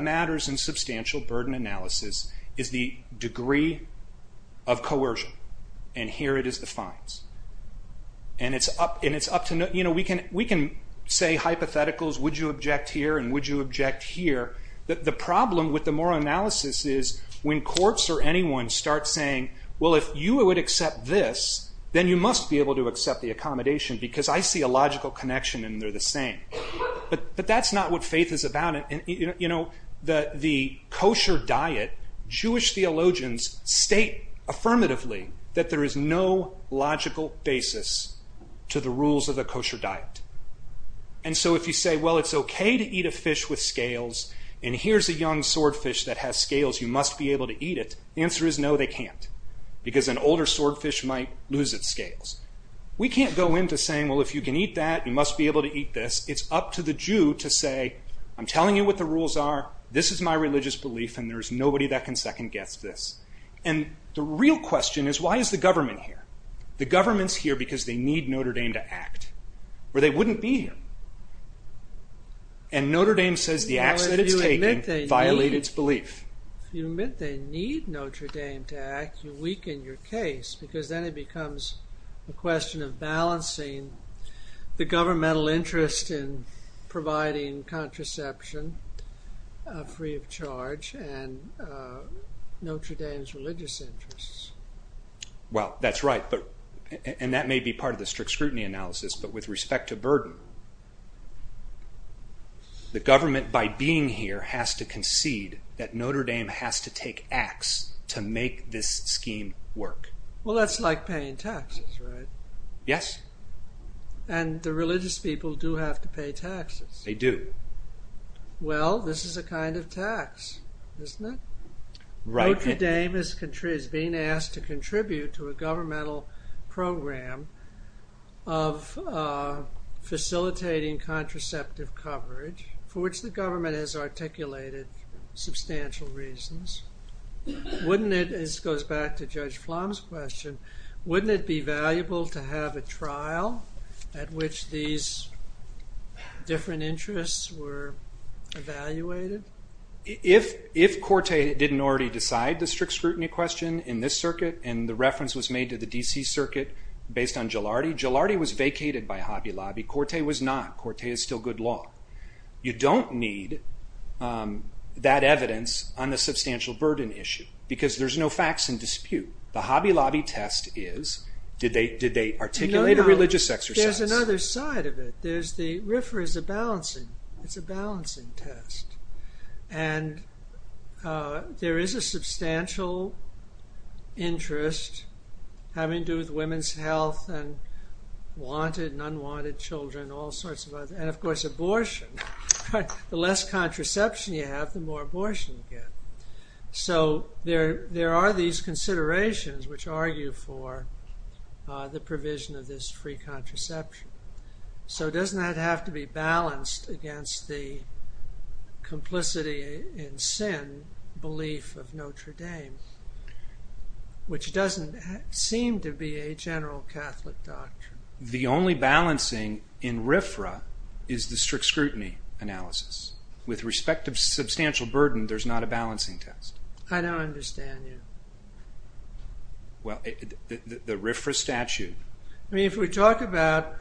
matters in substantial burden analysis is the degree of coercion. And here it is the fines. And it's up to... We can say hypotheticals, would you object here and would you object here. The problem with the moral analysis is when courts or anyone starts saying, well if you would accept this then you must be able to accept the accommodation because I see a logical connection and they're the same. But that's not what faith is about. The kosher diet, Jewish theologians state affirmatively that there is no logical basis to the rules of the kosher diet. And so if you say, well it's okay to eat a fish with scales and here's a young swordfish that has scales you must be able to eat it, the answer is no they can't. Because an older swordfish might lose its scales. We can't go into saying, well if you can eat that you must be able to eat this. It's up to the Jew to say I'm telling you what the rules are, this is my religious belief and there's nobody that can second guess this. And the real question is why is the government here? The government's here because they need Notre Dame to act or they wouldn't be here. And Notre Dame says the act that it's taking violates its belief. You admit they need Notre Dame to act you weaken your case because then it becomes a question of balancing the governmental interest in providing contraception free of charge and Notre Dame's religious interests. Well that's right, and that may be part of the strict scrutiny analysis but with respect to burden the government by being here has to concede that Notre Dame has to take acts to make this scheme work. Well that's like paying taxes, right? Yes. And the religious people do have to pay taxes. They do. Well this is a kind of tax, isn't it? Notre Dame is being asked to contribute to a governmental program of facilitating contraceptive coverage for which the government has articulated substantial reasons. Wouldn't it, this goes back to Judge Plum's question, wouldn't it be valuable to have a trial at which these different interests were evaluated? If Corte didn't already decide the strict scrutiny question in this circuit and the reference was made to the D.C. circuit based on Jilardi, Jilardi was vacated by Hobby Lobby, Corte was not, Corte is still good law. You don't need that evidence on the substantial burden issue because there's no facts in dispute. The Hobby Lobby test is, did they articulate a religious exercise? There's another side of it, there's the balancing, it's a balancing test. And there is a substantial interest having to do with women's health and wanted and unwanted children, all sorts of other, and of course abortion. The less contraception you have the more abortion you get. So there are these considerations which argue for the provision of this free and balanced against the complicity in sin belief of Notre Dame which doesn't seem to be a general Catholic doctrine. The only balancing in RFRA is the strict scrutiny analysis. With respect to substantial burden there's not a balancing test. I don't understand you. The RFRA statute. I mean if we talk about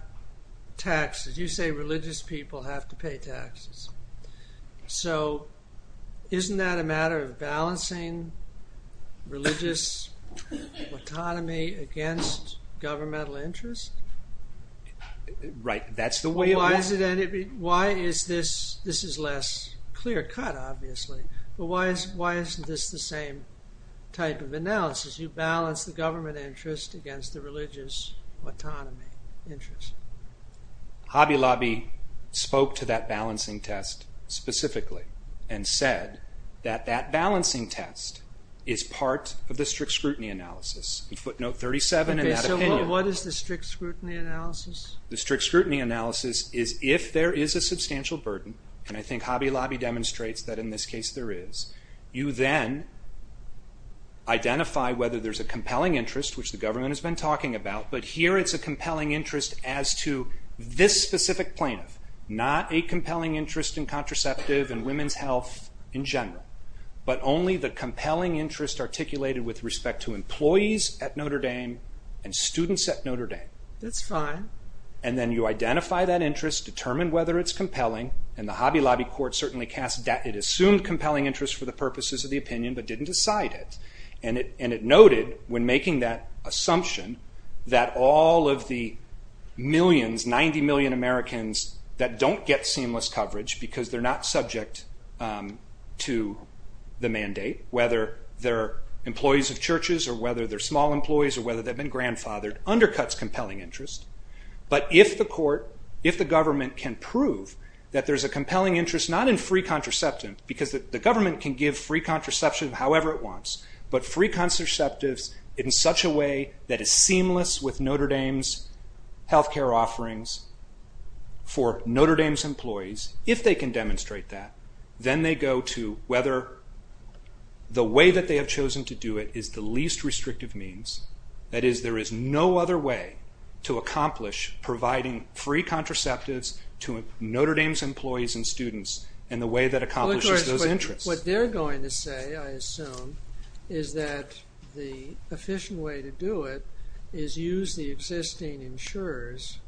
taxes you say religious people have to pay taxes. So isn't that a matter of balancing religious economy against governmental interest? Right. Why is this, this is less clear cut obviously, but why isn't this the same type of analysis? You balance the government interest against the religious autonomy interest. Hobby Lobby spoke to that balancing test specifically and said that that balancing test is part of the strict scrutiny analysis. Footnote 37. What is the strict scrutiny analysis? The strict scrutiny analysis is if there is a substantial burden, and I think Hobby Lobby demonstrates that in this case there is, you then identify whether there's a compelling interest, which the government has been talking about, but here it's a compelling interest as to this specific plaintiff. Not a compelling interest in contraceptive and women's health in general, but only the compelling interest articulated with respect to employees at Notre Dame and students at Notre Dame. That's fine. And then you identify that interest, determine whether it's compelling, and the Hobby Lobby court certainly cast, it assumed compelling interest for the purposes of the opinion, but didn't decide it. And it noted when making that assumption that all of the millions, 90 million Americans that don't get seamless coverage because they're not subject to the mandate, whether they're employees of churches or whether they're small employees or whether they've been grandfathered, undercuts compelling interest. But if the court, if the interest, not in free contraception, because the government can give free contraception however it wants, but free contraceptives in such a way that it's seamless with Notre Dame's health care offerings for Notre Dame's employees, if they can demonstrate that, then they go to whether the way that they have chosen to do it is the least restrictive means. That is, there is no other way to accomplish providing free contraceptives to Notre Dame's employees and students in the way that accomplishes those interests. What they're going to say, I assume, is that the efficient way to do it is use the existing insurers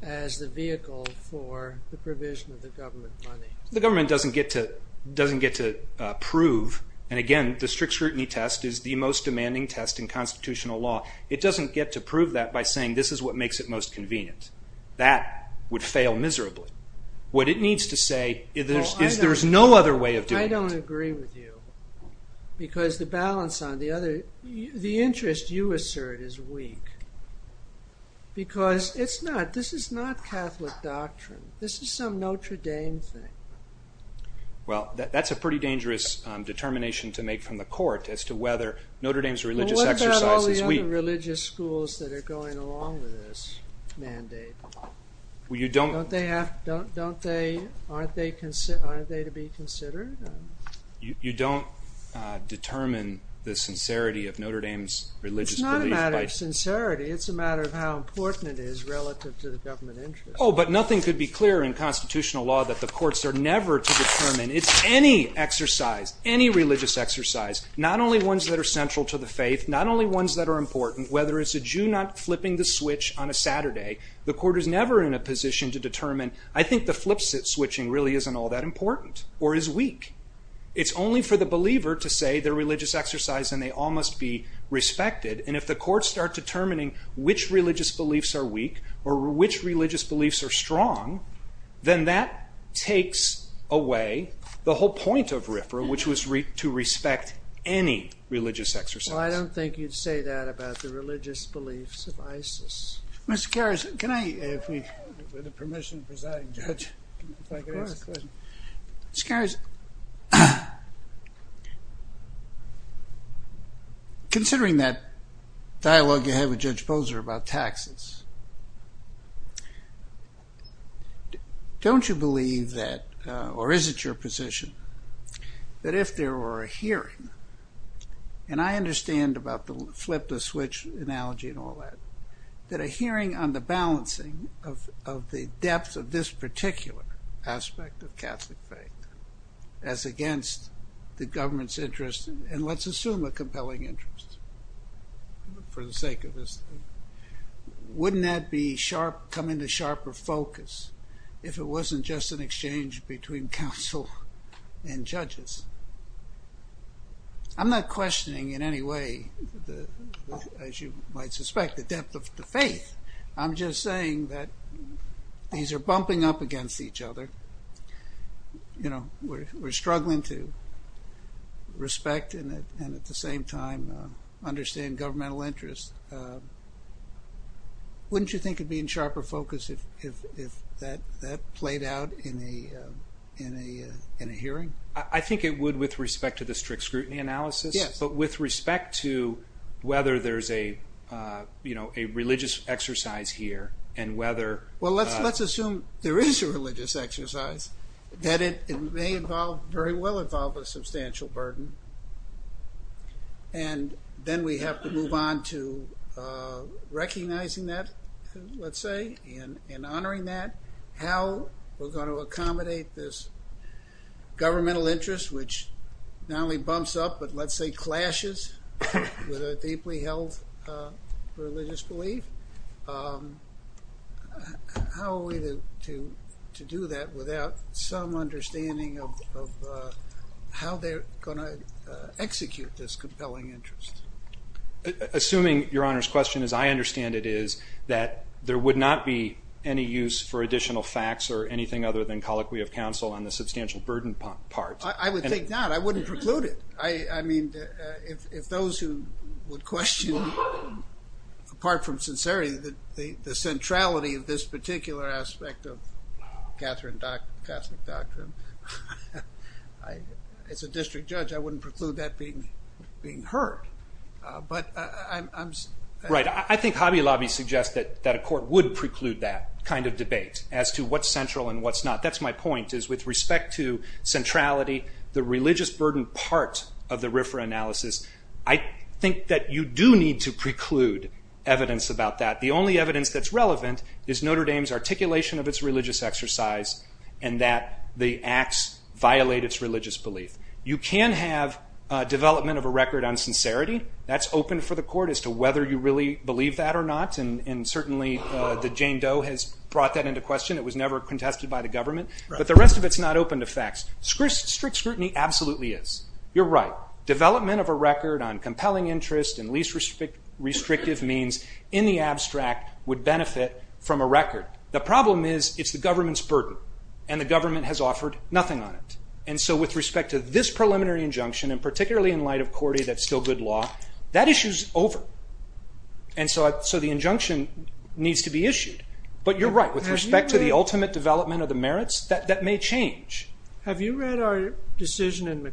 as the vehicle for the provision of the government money. The government doesn't get to prove, and again, the strict scrutiny test is the most demanding test in constitutional law. It doesn't get to prove that by saying this is what makes it most convenient. That would fail miserably. What it needs to say is there is no other way of doing it. I don't agree with you because the balance on the other, the interest you assert is weak because it's not, this is not Catholic doctrine. This is some Notre Dame thing. Well, that's a pretty dangerous determination to make from the court as to whether Notre Dame's religious exercise is weak. What about the religious schools that are going along with this mandate? Aren't they to be considered? You don't determine the sincerity of Notre Dame's religious belief. It's not a matter of sincerity. It's a matter of how important it is relative to the government interest. Oh, but nothing could be clearer in constitutional law that the courts are never to determine any exercise, any religious exercise, not only ones that are central to the faith, not only ones that are important, whether it's a Jew not flipping the switch on a Saturday, the court is never in a position to determine, I think the flip-switching really isn't all that important or is weak. It's only for the believer to say their religious exercise and they all must be respected. And if the courts start determining which religious beliefs are weak or which religious beliefs are strong, then that takes away the whole point of RFRA, which was to respect any religious exercise. Well, I don't think you'd say that about the religious beliefs of ISIS. Mr. Karras, can I, with the permission of Presiding Judge, Mr. Karras, considering that dialogue you had with Judge Bozer about taxes, don't you believe that, or is it your position, that if there were a hearing, and I understand about the flip-the-switch analogy and all that, that a hearing on the balancing of the depth of this particular aspect of Catholic faith as against the government's interest, and let's assume a compelling interest for the sake of this, wouldn't that come into sharper focus if it wasn't just an exchange between counsel and judges? I'm not questioning in any way, as you might suspect, the depth of the faith. I'm just saying that these are bumping up against each other. You know, we're struggling to respect and at the same time understand governmental interests. Wouldn't you think it'd be in sharper focus if that played out in a hearing? I think it would with respect to the strict scrutiny analysis, but with respect to whether there's a religious exercise here and whether... Well, let's assume there is a religious exercise, that it may involve, very well involve, a substantial burden, and then we have to move on to recognizing that, let's say, and honoring that, how we're going to accommodate this governmental interest, which not only bumps up, but let's say clashes with a deeply held religious belief. How are we to do that without some understanding of how they're going to execute this compelling interest? Assuming Your Honor's question, as I understand it, is that there would not be any use for additional facts or anything other than colloquy of counsel on the substantial burden part. I would think not. I wouldn't preclude it. I mean, if those who would question, apart from sincerity, the centrality of this particular aspect of Catholic doctrine, as a district judge, I wouldn't preclude that being heard. Right. I think Hobby Lobby suggested that a court would preclude that kind of debate as to what's central and what's not. That's my point, is with respect to centrality, the religious burden part of the RFRA analysis, I think that you do need to preclude evidence about that. The only evidence that's relevant is Notre Dame's articulation of its religious exercise and that the acts violate its religious belief. You can have development of a record on sincerity. That's open for the court as to whether you really believe that or not, and certainly the Jane Doe has brought that into question. It was never contested by the government. But the rest of it's not open to facts. Strict scrutiny absolutely is. You're right. Development of a record in the abstract would benefit from a record. The problem is, it's the government's burden, and the government has offered nothing on it. And so with respect to this preliminary injunction, and particularly in light of Corday that's still good law, that issue's over. And so the injunction needs to be issued. But you're right, with respect to the ultimate development of the merits, that may change. Have you read our decision in A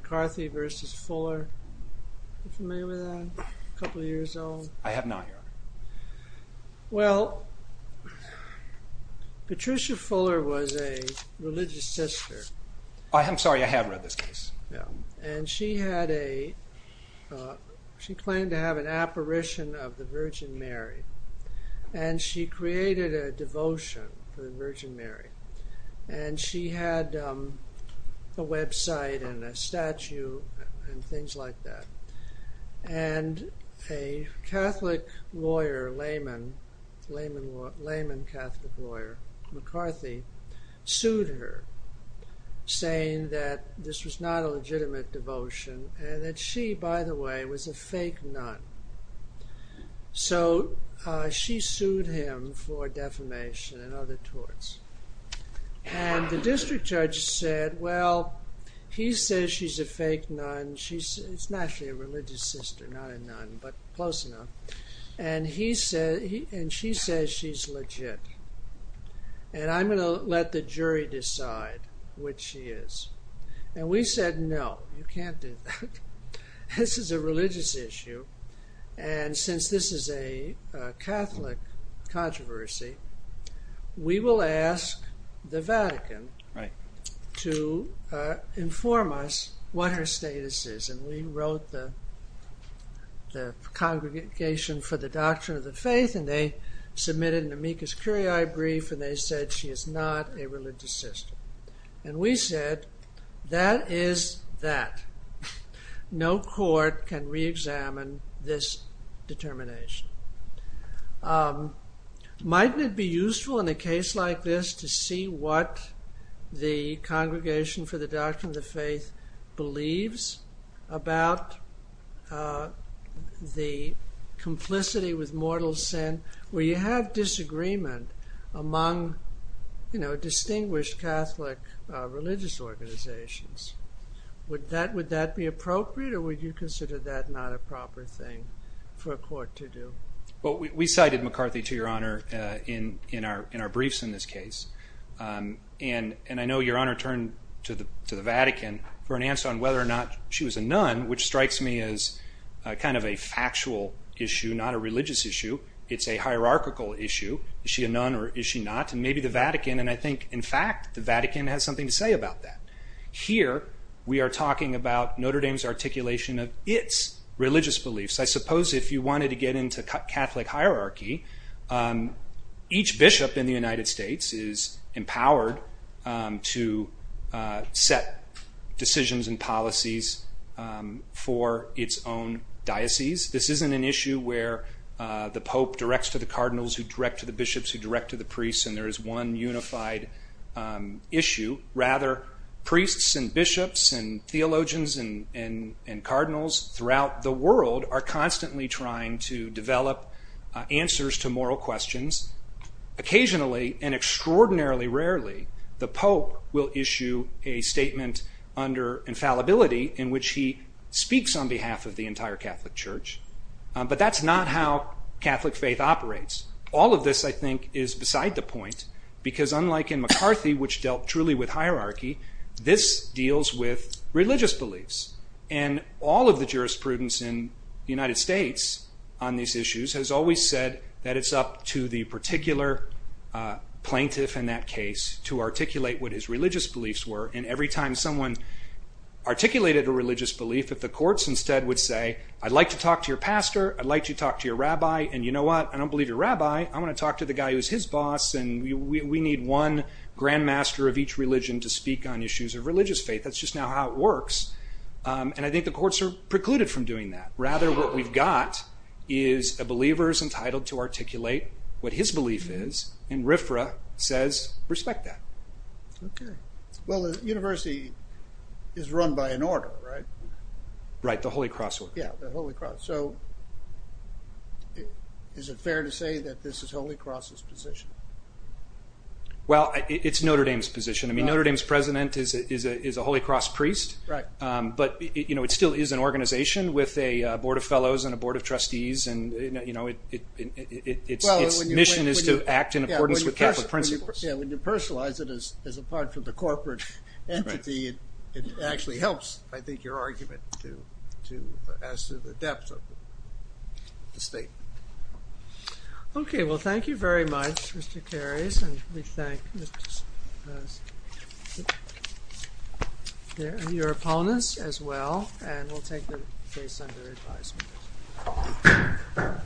couple years old. I have not, Eric. Well, Patricia Fuller was a religious sister. I'm sorry, I have read this piece. And she had a... She claimed to have an apparition of the Virgin Mary. And she created a devotion for the Virgin Mary. And she had a website and a statue and things like that. And a Catholic lawyer, layman, layman Catholic lawyer, McCarthy, sued her saying that this was not a legitimate devotion. And that she, by the way, was a fake nun. So she sued him for defamation and other torts. And the district judge said, well, he says she's a fake nun. She's naturally a religious sister, not a nun, but close enough. And he said, and she says she's legit. And I'm going to let the jury decide what she is. And we said, no, you can't do that. This is a religious issue. And since this is a Catholic controversy, we will ask the Vatican to inform us what her status is. And we wrote the Congregation for the Doctrine of the Faith and they submitted an amicus curiae brief and they said she is not a religious sister. And we said that is that. No court can re-examine this determination. Might it be useful in a case like this to see what the Congregation for the Doctrine of the Faith believes about the complicity with mortal sin where you have disagreement among distinguished Catholic religious organizations? Would that be appropriate or would you consider that not a proper thing for a court to do? Well, we cited McCarthy, to your honor, and I know your honor turned to the Vatican for an answer on whether or not she was a nun, which strikes me as kind of a factual issue, not a religious issue. It's a hierarchical issue. Is she a nun or is she not? And maybe the Vatican, and I think in fact the Vatican has something to say about that. Here we are talking about Notre Dame's articulation of its religious beliefs. I suppose if you wanted to get into Catholic hierarchy, each diocese is empowered to set decisions and policies for its own diocese. This isn't an issue where the Pope directs to the cardinals who direct to the bishops who direct to the priests and there is one unified issue. Rather, priests and bishops and theologians and cardinals throughout the world are constantly trying to develop answers to moral questions Occasionally, and extraordinarily rarely, the Pope will issue a statement under infallibility in which he speaks on behalf of the entire Catholic Church, but that's not how Catholic faith operates. All of this, I think, is beside the point because unlike in McCarthy, which dealt truly with hierarchy, this deals with religious beliefs and all of the jurisprudence in the United States on these issues has always said that it's up to the particular plaintiff in that case to articulate what his religious beliefs were and every time someone articulated a religious belief that the courts instead would say I'd like to talk to your pastor, I'd like to talk to your rabbi and you know what, I don't believe your rabbi, I want to talk to the guy who's his boss and we need one grandmaster of each religion to speak on issues of religious faith. That's just not how it works and I think the courts are precluded from doing that. Rather, what we've got is a believer is entitled to articulate what his belief is and RFRA says respect that. Well, the university is run by an order, right? Right, the Holy Cross. So, is it fair to say that this is Holy Cross's position? Well, it's Notre Dame's position. I mean, Notre Dame's president is a Holy Cross priest, but it still is an organization with a board of fellows and a board of trustees and its mission is to act in accordance with Catholic principles. When you personalize it as a part of the corporate entity, it actually helps, I think, your argument as to the depth of the state. Okay, well thank you very much, Mr. Carries, and we thank your opponents as well and we'll take the case under advisement. Thank you.